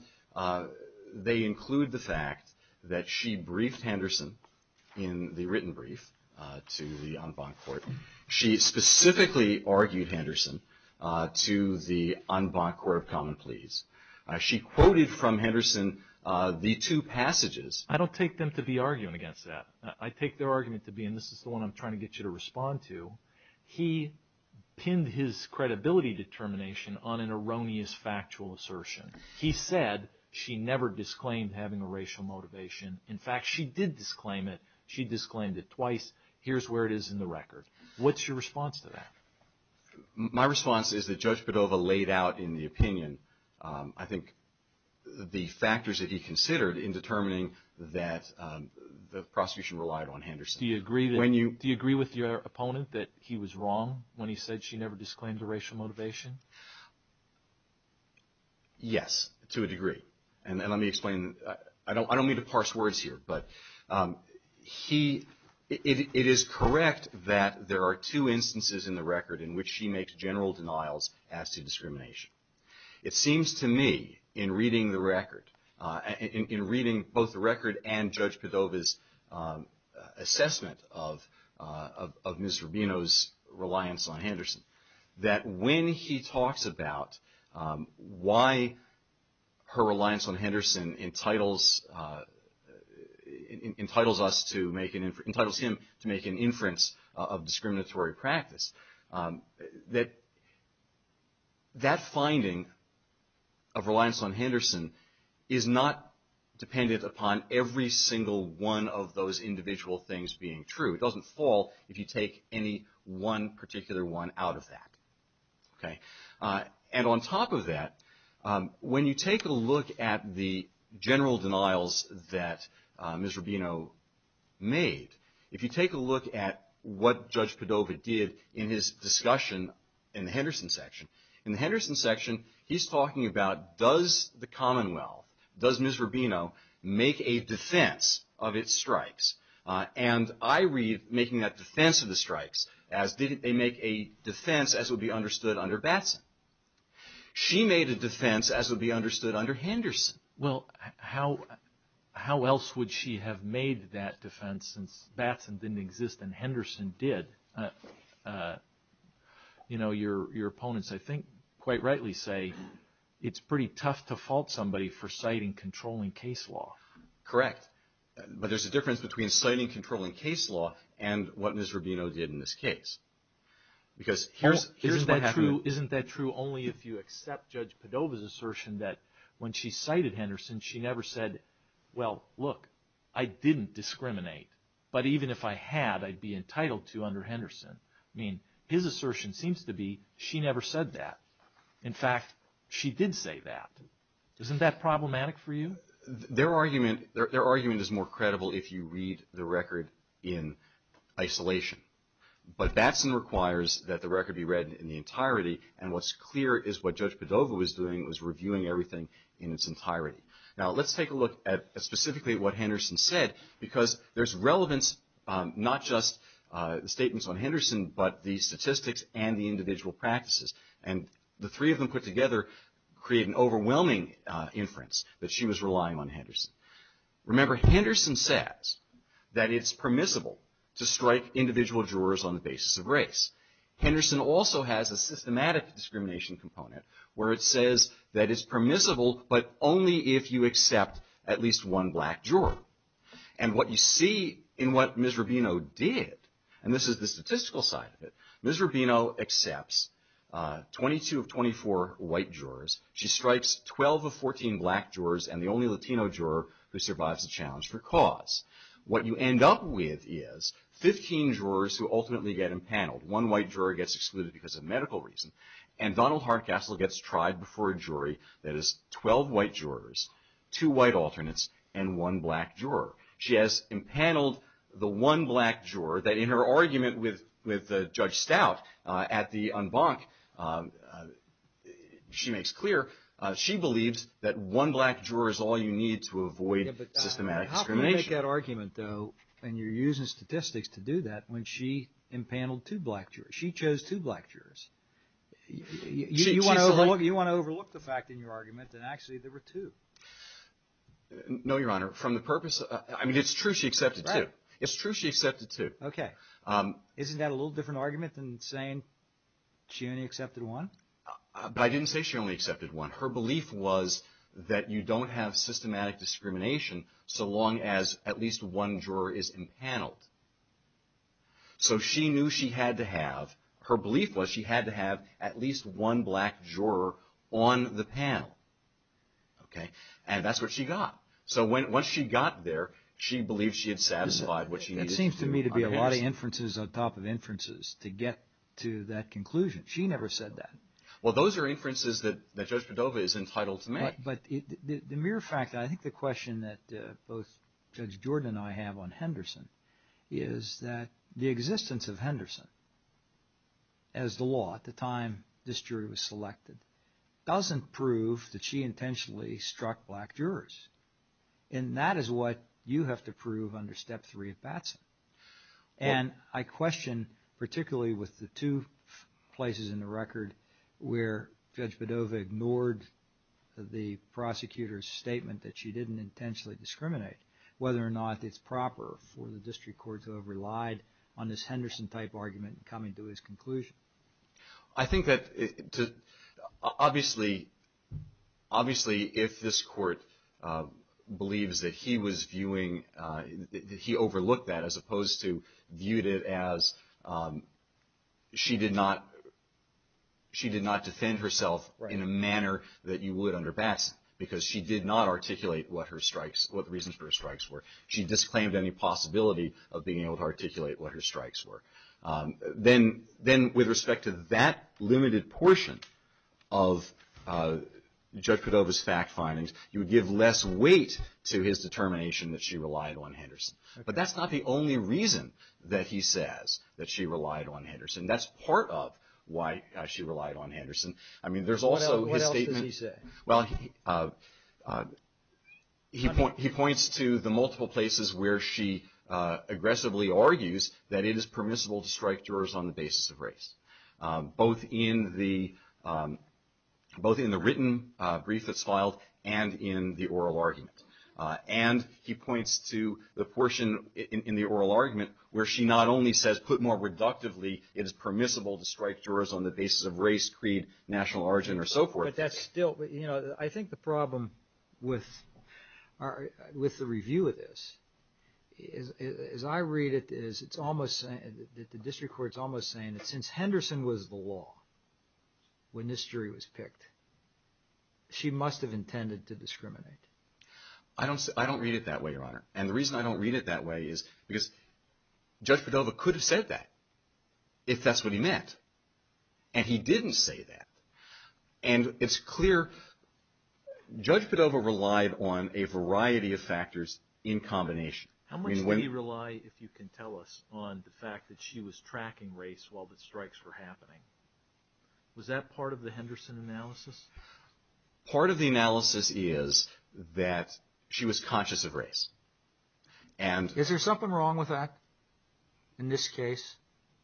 they include the fact that she briefed Henderson in the written brief to the en banc court. She specifically argued Henderson to the en banc court of common pleas. She quoted from Henderson the two passages. I don't take them to be arguing against that. I take their argument to be, and this is the one I'm trying to get you to respond to, he pinned his credibility determination on an erroneous factual assertion. He said she never disclaimed having a racial motivation. In fact, she did disclaim it. She disclaimed it twice. Here's where it is in the record. What's your response to that? My response is that Judge Padova laid out in the opinion, I think, the factors that he considered in determining that the prosecution relied on Henderson. Do you agree with your opponent that he was wrong when he said she never disclaimed a racial motivation? Yes, to a degree. And let me explain. I don't mean to parse words here, but it is correct that there are two instances in the record in which she makes general denials as to discrimination. It seems to me in reading the record, in reading both the record and Judge Padova's assessment of Ms. Rubino's reliance on Henderson, that when he talks about why her reliance on Henderson entitles us to make an inference, entitles him to make an inference of discriminatory practice, that that finding of reliance on Henderson is not dependent upon every single one of those individual things being true. It doesn't fall if you take any one particular one out of that. And on top of that, when you take a look at the general denials that Ms. Rubino made, if you take a look at what Judge Padova did in his discussion in the Henderson section, in the Henderson section he's talking about does the Commonwealth, does Ms. Rubino make a defense of its stripes? And I read making that defense of the stripes as did they make a defense as would be understood under Batson. She made a defense as would be understood under Henderson. Well, how else would she have made that defense since Batson didn't exist and Henderson did? Your opponents, I think, quite rightly say it's pretty tough to fault somebody for citing controlling case law. Correct. But there's a difference between citing controlling case law and what Ms. Rubino did in this case. Isn't that true only if you accept Judge Padova's assertion that when she cited Henderson, she never said, well, look, I didn't discriminate. But even if I had, I'd be entitled to under Henderson. I mean his assertion seems to be she never said that. In fact, she did say that. Isn't that problematic for you? Their argument is more credible if you read the record in isolation. But Batson requires that the record be read in the entirety. And what's clear is what Judge Padova was doing was reviewing everything in its entirety. Now, let's take a look at specifically what Henderson said because there's relevance not just statements on Henderson but the statistics and the individual practices. And the three of them put together create an overwhelming inference that she was relying on Henderson. Remember, Henderson says that it's permissible to strike individual jurors on the basis of race. Henderson also has a systematic discrimination component where it says that it's permissible but only if you accept at least one black juror. And what you see in what Ms. Rubino did, and this is the statistical side of it, Ms. Rubino accepts 22 of 24 white jurors. She strikes 12 of 14 black jurors and the only Latino juror who survives the challenge for cause. What you end up with is 15 jurors who ultimately get impaneled. One white juror gets excluded because of medical reasons. And Donald Hardcastle gets tried before a jury that is 12 white jurors, two white alternates, and one black juror. She has impaneled the one black juror that in her argument with Judge Stout at the en banc, she makes clear she believes that one black juror is all you need to avoid systematic discrimination. But how can you make that argument, though, and you're using statistics to do that when she impaneled two black jurors? She chose two black jurors. You want to overlook the fact in your argument that actually there were two. No, Your Honor. From the purpose – I mean, it's true she accepted two. It's true she accepted two. Okay. Isn't that a little different argument than saying she only accepted one? I didn't say she only accepted one. Her belief was that you don't have systematic discrimination so long as at least one juror is impaneled. So she knew she had to have – her belief was she had to have at least one black juror on the panel, and that's what she got. So once she got there, she believed she had satisfied what she needed. It seems to me to be a lot of inferences on top of inferences to get to that conclusion. She never said that. Well, those are inferences that Judge Cordova is entitled to make. But the mere fact – I think the question that both Judge Bjorda and I have on Henderson is that the existence of Henderson as the law at the time this jury was selected doesn't prove that she intentionally struck black jurors. And that is what you have to prove under Step 3 of Patson. And I question, particularly with the two places in the record where Judge Cordova ignored the prosecutor's statement that she didn't intentionally discriminate, whether or not it's proper for the district court to have relied on this Henderson-type argument in coming to this conclusion. I think that obviously if this court believes that he was viewing – that he overlooked that as opposed to viewed it as she did not defend herself in a manner that you would under Batson, because she did not articulate what her strikes – what the reasons for her strikes were. She disclaimed any possibility of being able to articulate what her strikes were. Then with respect to that limited portion of Judge Cordova's fact findings, you would give less weight to his determination that she relied on Henderson. But that's not the only reason that he says that she relied on Henderson. That's part of why she relied on Henderson. I mean, there's also his statement – What else did he say? Well, he points to the multiple places where she aggressively argues that it is permissible to strike jurors on the basis of race, both in the written brief that's filed and in the oral argument. And he points to the portion in the oral argument where she not only says, put more reductively, it is permissible to strike jurors on the basis of race, creed, national origin, or so forth. But that's still – I think the problem with the review of this, as I read it, is it's almost – the district court is almost saying that since Henderson was the law when this jury was picked, she must have intended to discriminate. I don't read it that way, Your Honor. And the reason I don't read it that way is because Judge Cordova could have said that if that's what he meant, and he didn't say that. And it's clear – Judge Cordova relied on a variety of factors in combination. How much did he rely, if you can tell us, on the fact that she was tracking race while the strikes were happening? Was that part of the Henderson analysis? Part of the analysis is that she was conscious of race. Is there something wrong with that in this case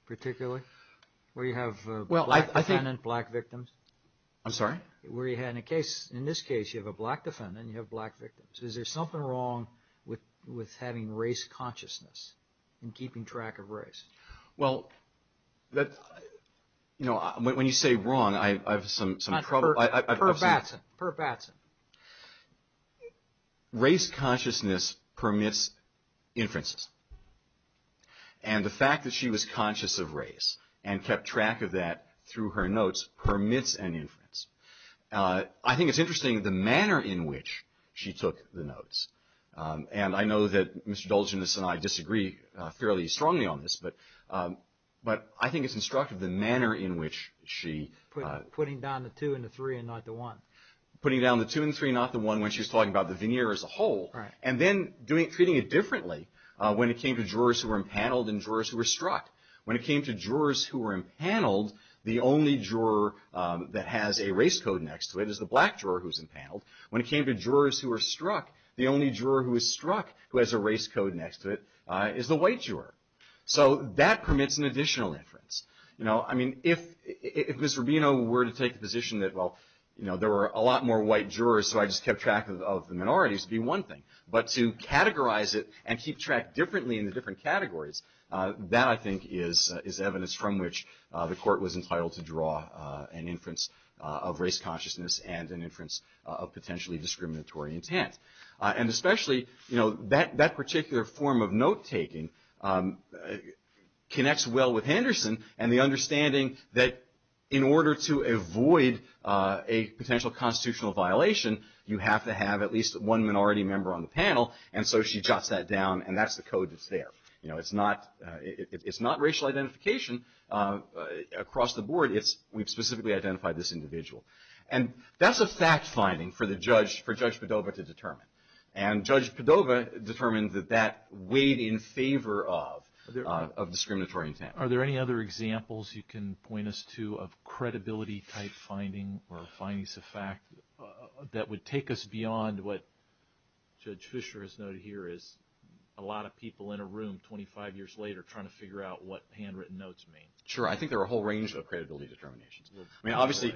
particularly where you have a black defendant, black victims? I'm sorry? Where you had a case – in this case, you have a black defendant and you have black victims. Is there something wrong with having race consciousness and keeping track of race? Well, when you say wrong, I have some – Per Batson. Per Batson. Race consciousness permits inferences. And the fact that she was conscious of race and kept track of that through her notes permits an inference. I think it's interesting the manner in which she took the notes. And I know that Mr. Dulcinius and I disagree fairly strongly on this, but I think it's instructive the manner in which she – Putting down the two and the three and not the one. Putting down the two and the three and not the one when she was talking about the veneer as a whole. And then treating it differently when it came to jurors who were impaneled and jurors who were struck. When it came to jurors who were impaneled, the only juror that has a race code next to it is the black juror who was impaneled. When it came to jurors who were struck, the only juror who was struck who has a race code next to it is the white juror. So that permits an additional inference. You know, I mean, if Mr. Rubino were to take the position that, well, you know, there were a lot more white jurors, so I just kept track of the minorities, it would be one thing. But to categorize it and keep track differently in the different categories, that, I think, is evidence from which the court was entitled to draw an inference of race consciousness and an inference of potentially discriminatory intent. And especially, you know, that particular form of note-taking connects well with Henderson and the understanding that in order to avoid a potential constitutional violation, you have to have at least one minority member on the panel. And so she jots that down, and that's the code that's there. You know, it's not racial identification across the board. We've specifically identified this individual. And that's a fact-finding for Judge Padova to determine. And Judge Padova determines that that weighed in favor of discriminatory intent. Are there any other examples you can point us to of credibility-type finding or findings of fact that would take us beyond what Judge Fischer has noted here is a lot of people in a room 25 years later trying to figure out what handwritten notes mean? Sure. I think there are a whole range of credibility determinations. I mean, obviously,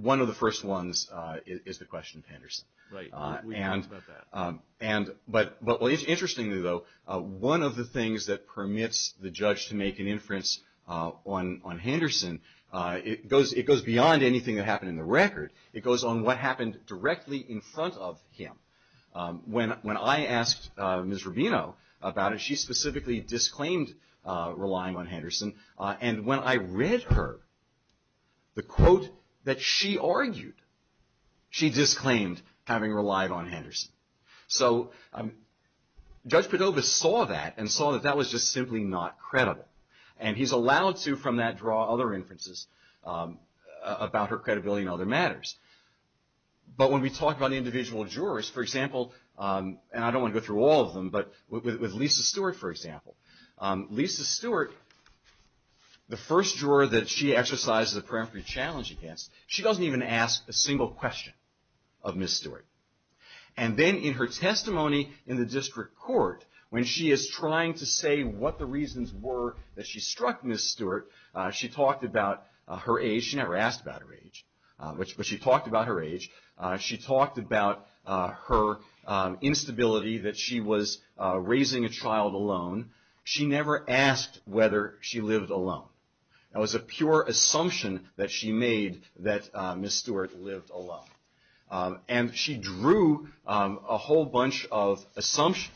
one of the first ones is the question of Henderson. Right. We know that. But interestingly, though, one of the things that permits the judge to make an inference on Henderson, it goes beyond anything that happened in the record. It goes on what happened directly in front of him. When I asked Ms. Rubino about it, she specifically disclaimed relying on Henderson. And when I read her the quote that she argued, she disclaimed having relied on Henderson. So Judge Padova saw that and saw that that was just simply not credible. And he's allowed to, from that, draw other inferences about her credibility in other matters. But when we talk about individual jurors, for example, and I don't want to go through all of them, but with Lisa Stewart, for example, Lisa Stewart, the first juror that she exercised the peremptory challenge against, she doesn't even ask a single question of Ms. Stewart. And then in her testimony in the district court, when she is trying to say what the reasons were that she struck Ms. Stewart, she talked about her age. She never asked about her age, but she talked about her age. She talked about her instability, that she was raising a child alone. She never asked whether she lived alone. It was a pure assumption that she made that Ms. Stewart lived alone. And she drew a whole bunch of assumptions.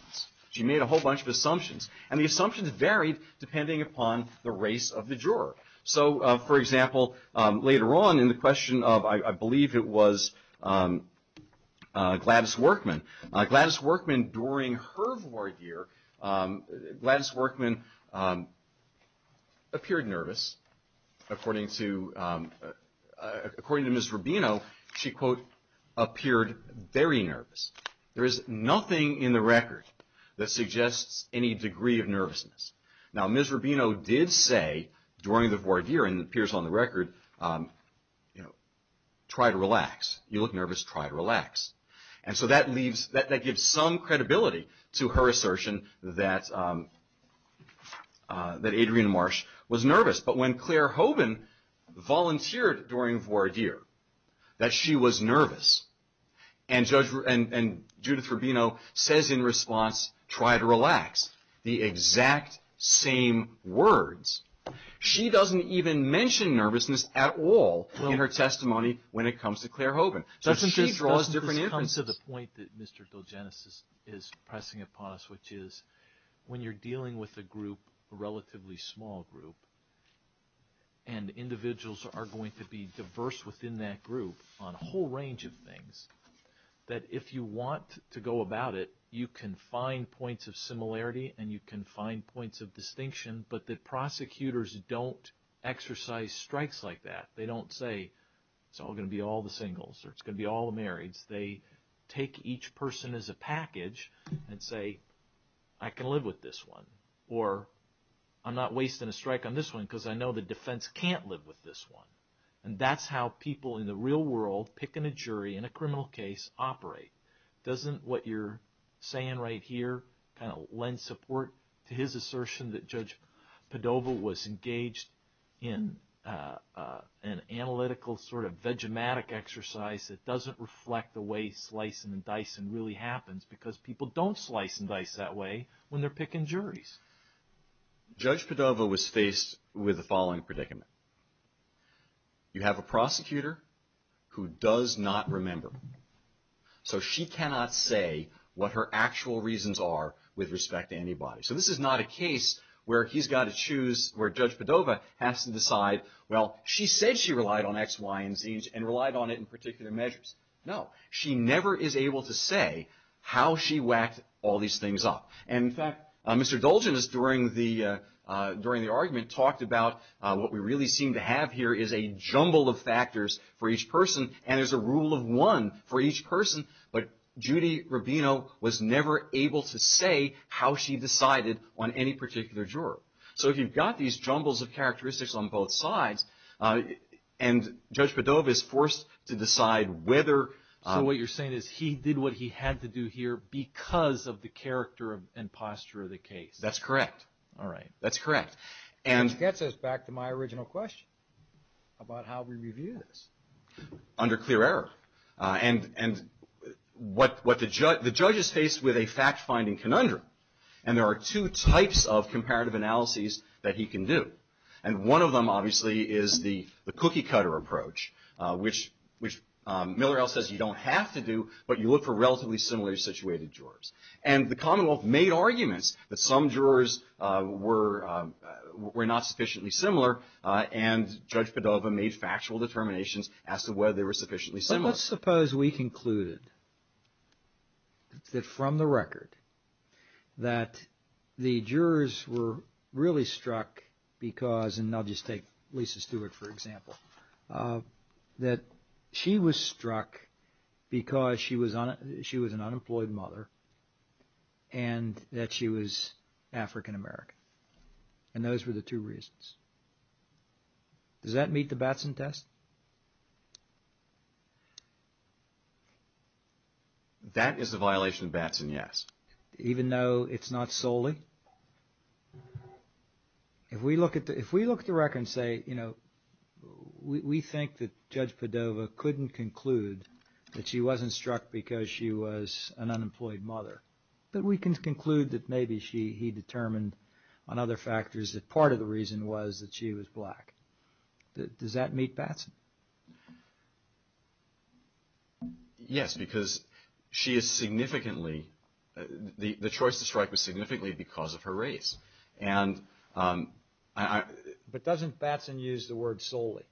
She made a whole bunch of assumptions, and the assumptions varied depending upon the race of the juror. So, for example, later on in the question of, I believe it was Gladys Workman. Gladys Workman, during her war year, Gladys Workman appeared nervous. According to Ms. Rubino, she, quote, appeared very nervous. There is nothing in the record that suggests any degree of nervousness. Now, Ms. Rubino did say during the war year, and it appears on the record, try to relax. You look nervous, try to relax. And so that gives some credibility to her assertion that Adrienne Marsh was nervous. But when Claire Hoven volunteered during war year, that she was nervous, and Judith Rubino says in response, try to relax. The exact same words. She doesn't even mention nervousness at all in her testimony when it comes to Claire Hoven. So she draws different inferences. It comes to the point that Mr. Dilgenes is pressing a pause, which is when you're dealing with a group, a relatively small group, and individuals are going to be diverse within that group on a whole range of things, that if you want to go about it, you can find points of similarity and you can find points of distinction, but the prosecutors don't exercise strikes like that. They don't say, it's all going to be all the singles or it's going to be all the marrieds. They take each person as a package and say, I can live with this one. Or I'm not wasting a strike on this one because I know the defense can't live with this one. And that's how people in the real world, picking a jury in a criminal case, operate. Doesn't what you're saying right here kind of lend support to his assertion that Judge Padova was engaged in an analytical, sort of vegematic exercise that doesn't reflect the way slicing and dicing really happens because people don't slice and dice that way when they're picking juries. Judge Padova was faced with the following predicament. You have a prosecutor who does not remember. So she cannot say what her actual reasons are with respect to anybody. So this is not a case where he's got to choose, where Judge Padova has to decide, well, she said she relied on X, Y, and Zs and relied on it in particular measures. No, she never is able to say how she whacked all these things up. And, in fact, Mr. Dolgen, during the argument, talked about what we really seem to have here is a jumble of factors for each person, and there's a rule of one for each person. But Judy Rubino was never able to say how she decided on any particular juror. So if you've got these jumbles of characteristics on both sides, and Judge Padova is forced to decide whether... So what you're saying is he did what he had to do here because of the character and posture of the case. That's correct. All right. That's correct. Which gets us back to my original question about how we review this. Under clear error. And what the judge is faced with a fact-finding conundrum, and there are two types of comparative analyses that he can do. And one of them, obviously, is the cookie-cutter approach, which Miller-Ellis says you don't have to do, but you look for relatively similarly situated jurors. And the Commonwealth made arguments that some jurors were not sufficiently similar, and Judge Padova made factual determinations as to whether they were sufficiently similar. Let's suppose we concluded that from the record that the jurors were really struck because, and I'll just take Lisa Stewart for example, that she was struck because she was an unemployed mother and that she was African-American. And those were the two reasons. Does that meet the Batson test? That is a violation of Batson, yes. Even though it's not solely? If we look at the record and say, you know, we think that Judge Padova couldn't conclude that she wasn't struck because she was an unemployed mother, but we can conclude that maybe he determined on other factors that part of the reason was that she was black. Does that meet Batson? Yes, because she is significantly, the choice to strike was significantly because of her race. But doesn't Batson use the word solely?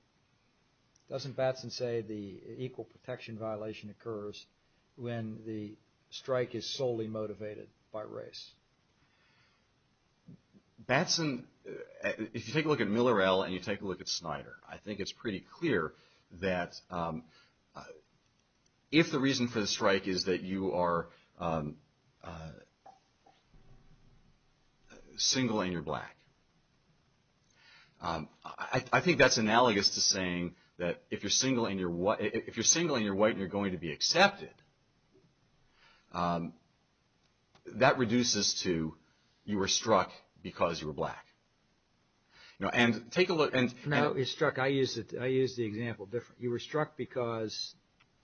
Doesn't Batson say the equal protection violation occurs when the strike is solely motivated by race? Batson, if you take a look at Miller L. and you take a look at Snyder, I think it's pretty clear that if the reason for the strike is that you are single and you're black, I think that's analogous to saying that if you're single and you're white and you're going to be accepted, that reduces to you were struck because you were black. And take a look. I used the example different. You were struck because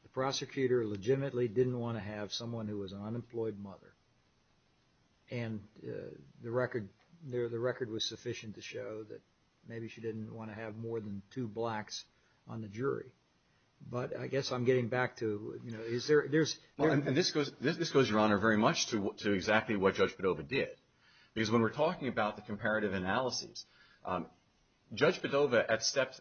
the prosecutor legitimately didn't want to have someone who was an unemployed mother. And the record was sufficient to show that maybe she didn't want to have more than two blacks on the jury. But I guess I'm getting back to, you know, is there, there's. This goes, Your Honor, very much to exactly what Judge Padova did. Because when we're talking about the comparative analysis, Judge Padova at step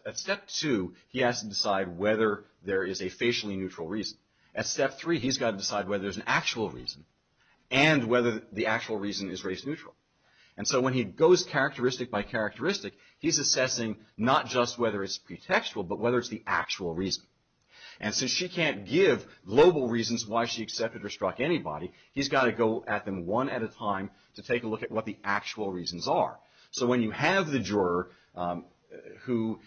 two, he has to decide whether there is a facially neutral reason. At step three, he's got to decide whether there's an actual reason and whether the actual reason is race neutral. And so when he goes characteristic by characteristic, he's assessing not just whether it's pretextual, but whether it's the actual reason. And since she can't give global reasons why she accepted or struck anybody, he's got to go at them one at a time to take a look at what the actual reasons are. So when you have the juror who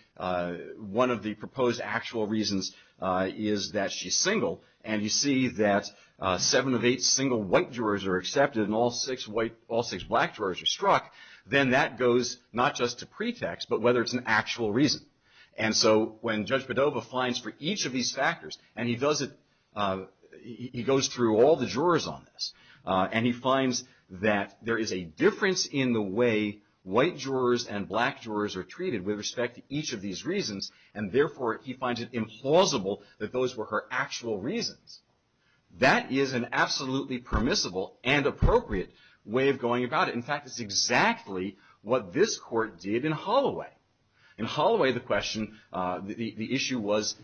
one of the proposed actual reasons is that she's single, and you see that seven of eight single white jurors are accepted and all six white, all six black jurors are struck, then that goes not just to pretext, but whether it's an actual reason. And so when Judge Padova finds for each of these factors, and he does it, he goes through all the jurors on this, and he finds that there is a difference in the way white jurors and black jurors are treated with respect to each of these reasons, and therefore he finds it implausible that those were her actual reasons. That is an absolutely permissible and appropriate way of going about it. In fact, it's exactly what this court did in Holloway. In Holloway, the question, the issue was,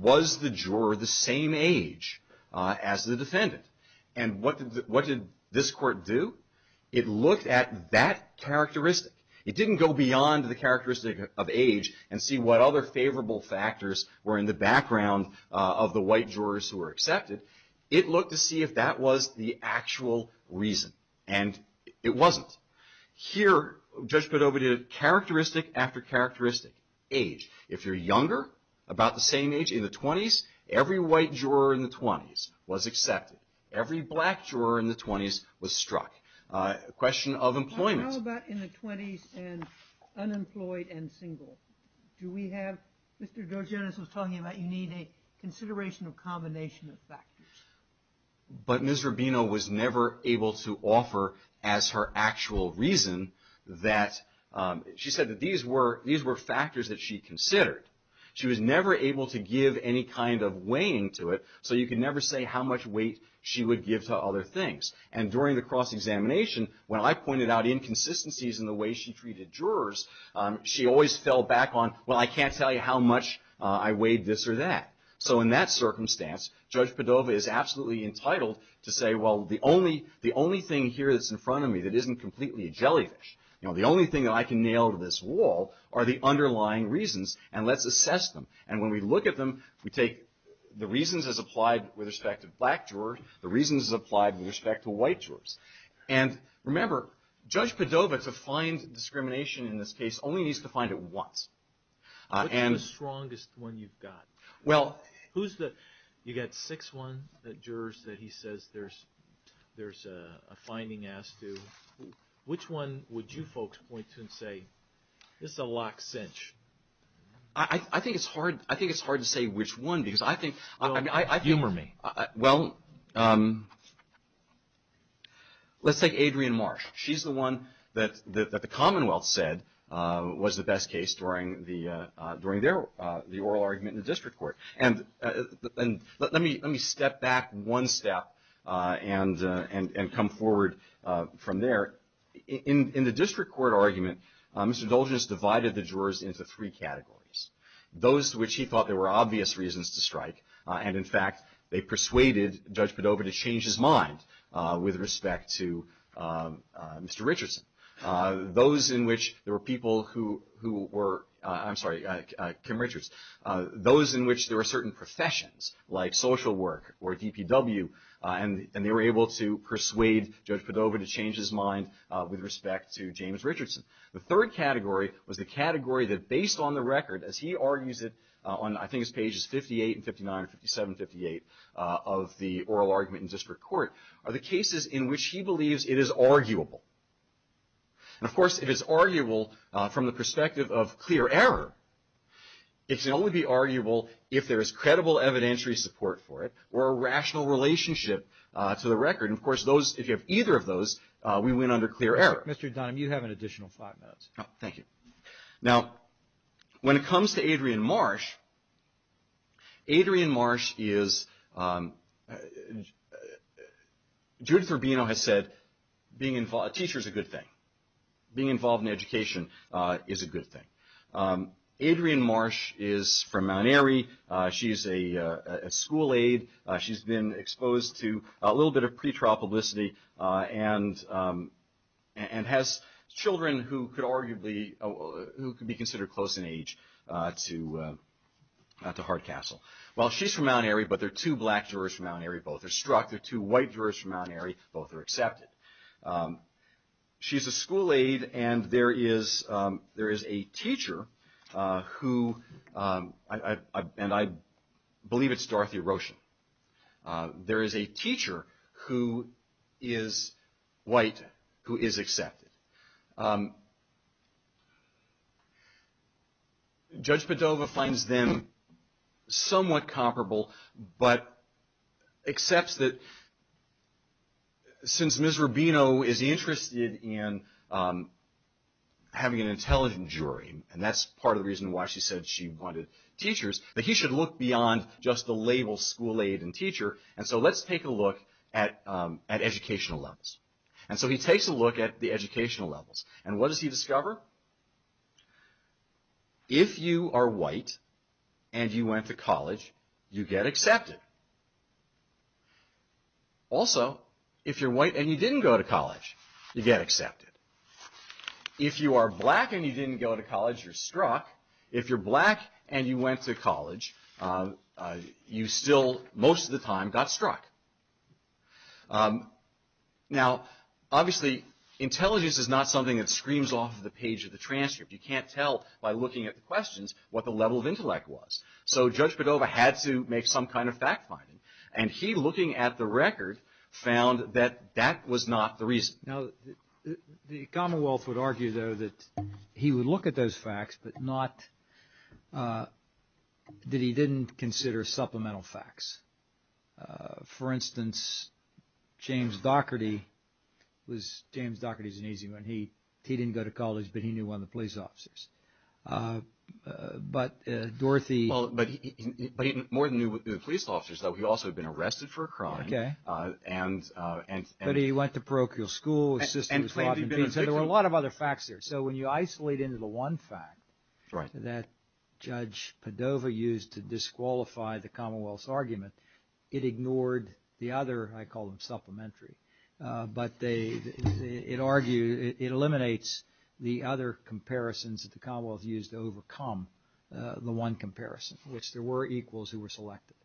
was the juror the same age as the defendant? And what did this court do? It looked at that characteristic. It didn't go beyond the characteristic of age and see what other favorable factors were in the background of the white jurors who were accepted. It looked to see if that was the actual reason, and it wasn't. Here, Judge Padova did a characteristic after characteristic, age. If you're younger, about the same age, in the 20s, every white juror in the 20s was accepted. Every black juror in the 20s was struck. A question of employment. What about in the 20s and unemployed and single? Do we have, Mr. Georgianis was talking about you need a consideration of combination of factors. But Ms. Rubino was never able to offer as her actual reason that she said that these were factors that she considered. She was never able to give any kind of weighing to it, so you could never say how much weight she would give to other things. And during the cross-examination, when I pointed out inconsistencies in the way she treated jurors, she always fell back on, well, I can't tell you how much I weighed this or that. So in that circumstance, Judge Padova is absolutely entitled to say, well, the only thing here that's in front of me that isn't completely a jellyfish, the only thing that I can nail to this wall are the underlying reasons, and let's assess them. And when we look at them, we take the reasons as applied with respect to black jurors, the reasons as applied with respect to white jurors. And remember, Judge Padova, to find discrimination in this case, only needs to find it once. What's the strongest one you've got? Well, who's the – you've got six ones, the jurors that he says there's a finding asked to. Which one would you folks point to and say, this is a locked cinch? I think it's hard to say which one because I think – Humor me. Well, let's take Adrienne Marsh. She's the one that the Commonwealth said was the best case during the oral argument in the district court. And let me step back one step and come forward from there. In the district court argument, Mr. Doldress divided the jurors into three categories, those to which he thought there were obvious reasons to strike, and in fact they persuaded Judge Padova to change his mind with respect to Mr. Richardson. Those in which there were people who were – I'm sorry, Kim Richards. Those in which there were certain professions, like social work or DPW, and they were able to persuade Judge Padova to change his mind with respect to James Richardson. The third category was the category that based on the record, as he argues it on I think it's pages 58 and 59 and 57 and 58 of the oral argument in district court, are the cases in which he believes it is arguable. And, of course, it is arguable from the perspective of clear error. It can only be arguable if there is credible evidentiary support for it or a rational relationship to the record. And, of course, if you have either of those, we win under clear error. Mr. Dunn, you have an additional five minutes. Thank you. Now, when it comes to Adrienne Marsh, Adrienne Marsh is – Judith Urbino has said being a teacher is a good thing, being involved in education is a good thing. Adrienne Marsh is from Mount Airy. She's a school aide. She's been exposed to a little bit of pretrial publicity and has children who could arguably be considered close in age to Hart Castle. Well, she's from Mount Airy, but there are two black jurors from Mount Airy. Both are struck. There are two white jurors from Mount Airy. Both are accepted. She's a school aide, and there is a teacher who – and I believe it's Dorothy Roshan. There is a teacher who is white who is accepted. Judge Padova finds them somewhat comparable but accepts that since Ms. Urbino is interested in having an intelligent jury, and that's part of the reason why she said she wanted teachers, that he should look beyond just the label school aide and teacher, and so let's take a look at educational levels. And so he takes a look at the educational levels, and what does he discover? If you are white and you went to college, you get accepted. Also, if you're white and you didn't go to college, you get accepted. If you are black and you didn't go to college, you're struck. If you're black and you went to college, you still, most of the time, got struck. Now, obviously, intelligence is not something that screams off the page of the transcript. You can't tell by looking at the questions what the level of intellect was. So Judge Padova had to make some kind of fact-finding, and he, looking at the record, found that that was not the reason. Now, the Commonwealth would argue, though, that he would look at those facts, but not that he didn't consider supplemental facts. For instance, James Dougherty was James Dougherty's age when he didn't go to college, but he knew one of the police officers. But Dorothy – Well, but he more than knew the police officers, though. Okay. But he went to parochial school. There were a lot of other facts there. So when you isolate into the one fact that Judge Padova used to disqualify the Commonwealth's argument, it ignored the other – I call them supplementary. But it eliminates the other comparisons that the Commonwealth used to overcome the one comparison, which there were equals who were selected.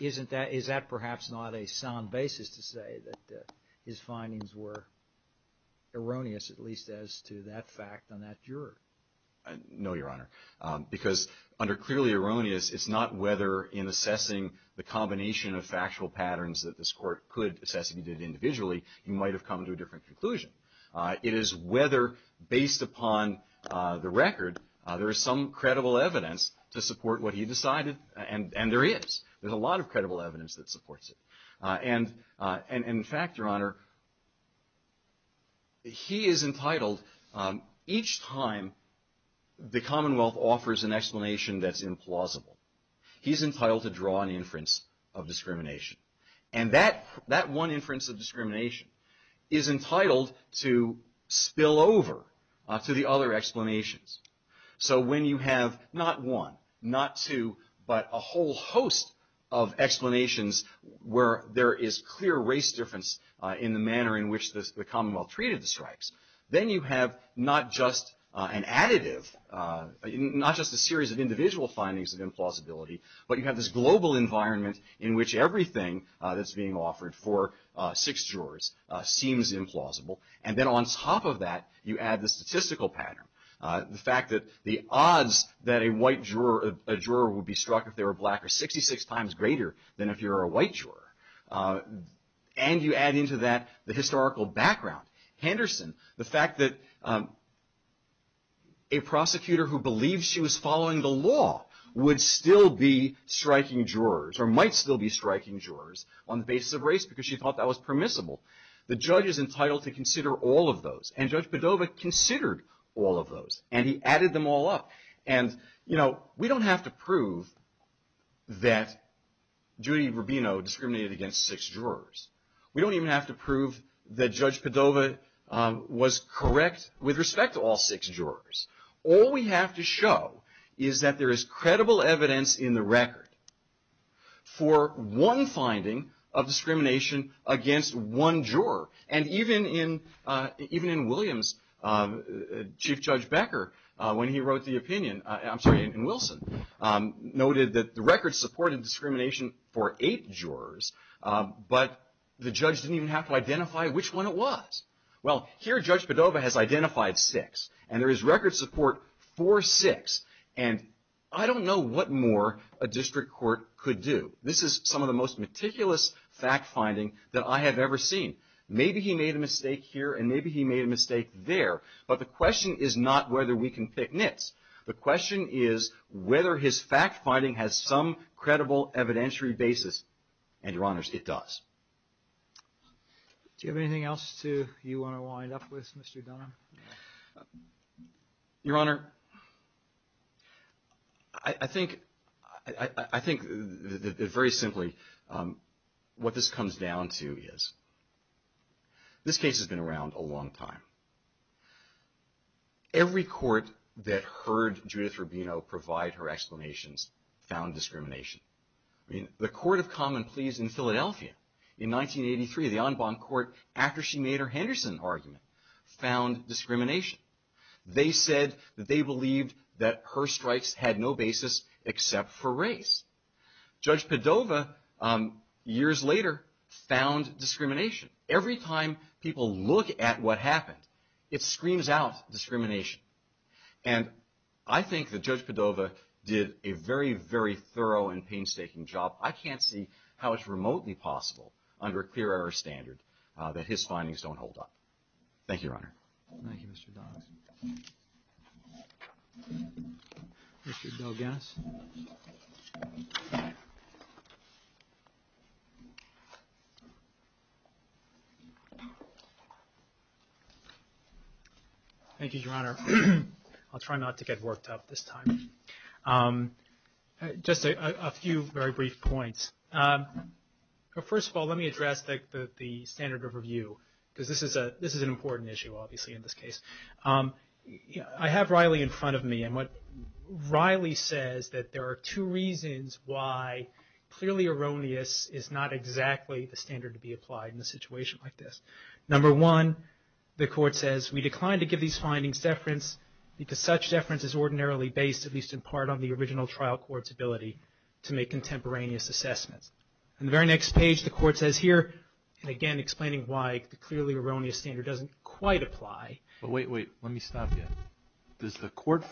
Isn't that – is that perhaps not a sound basis to say that his findings were erroneous, at least as to that fact on that juror? No, Your Honor, because under clearly erroneous, it's not whether in assessing the combination of factual patterns that this court could assess individually, you might have come to a different conclusion. It is whether, based upon the record, there is some credible evidence to support what he decided. And there is. There's a lot of credible evidence that supports it. And, in fact, Your Honor, he is entitled – each time the Commonwealth offers an explanation that's implausible, he's entitled to draw an inference of discrimination. And that one inference of discrimination is entitled to spill over to the other explanations. So when you have not one, not two, but a whole host of explanations where there is clear race difference in the manner in which the Commonwealth treated the stripes, then you have not just an additive, not just a series of individual findings of implausibility, but you have this global environment in which everything that's being offered for six jurors seems implausible. And then on top of that, you add the statistical pattern. The fact that the odds that a white juror would be struck if they were black are 66 times greater than if you're a white juror. And you add into that the historical background. Henderson, the fact that a prosecutor who believed she was following the law would still be striking jurors or might still be striking jurors on the basis of race because she thought that was permissible. The judge is entitled to consider all of those. And Judge Padova considered all of those. And he added them all up. And, you know, we don't have to prove that Judy Rubino discriminated against six jurors. We don't even have to prove that Judge Padova was correct with respect to all six jurors. All we have to show is that there is credible evidence in the record for one finding of discrimination against one juror. And even in Williams, Chief Judge Becker, when he wrote the opinion, I'm sorry, Wilson noted that the record supported discrimination for eight jurors, but the judge didn't even have to identify which one it was. Well, here Judge Padova has identified six. And there is record support for six. And I don't know what more a district court could do. This is some of the most meticulous fact-finding that I have ever seen. Maybe he made a mistake here and maybe he made a mistake there. But the question is not whether we can fix this. The question is whether his fact-finding has some credible evidentiary basis. And, Your Honors, it does. Do you have anything else, too, you want to wind up with, Mr. Dunn? Your Honor, I think that very simply what this comes down to is this case has been around a long time. Every court that heard Judith Rubino provide her explanations found discrimination. The Court of Common Pleas in Philadelphia in 1983, the en banc court, after she made her Henderson argument, found discrimination. They said that they believed that her strikes had no basis except for race. Judge Padova, years later, found discrimination. Every time people look at what happened, it screams out discrimination. And I think that Judge Padova did a very, very thorough and painstaking job. I can't see how it's remotely possible under a clear air standard that his findings don't hold up. Thank you, Your Honor. Thank you, Mr. Dunn. Thank you, Bill Dennis. Thank you, Your Honor. I'll try not to get worked up this time. Just a few very brief points. First of all, let me address the standard of review because this is an important issue, obviously, in this case. I have Riley in front of me, and Riley says that there are two reasons why clearly erroneous is not exactly the standard to be applied in a situation like this. Number one, the court says, we decline to give these findings deference because such deference is ordinarily based, at least in part, on the original trial court's ability to make contemporaneous assessments. On the very next page, the court says here, and again, explaining why the clearly erroneous standard doesn't quite apply. Wait, wait. Let me stop you.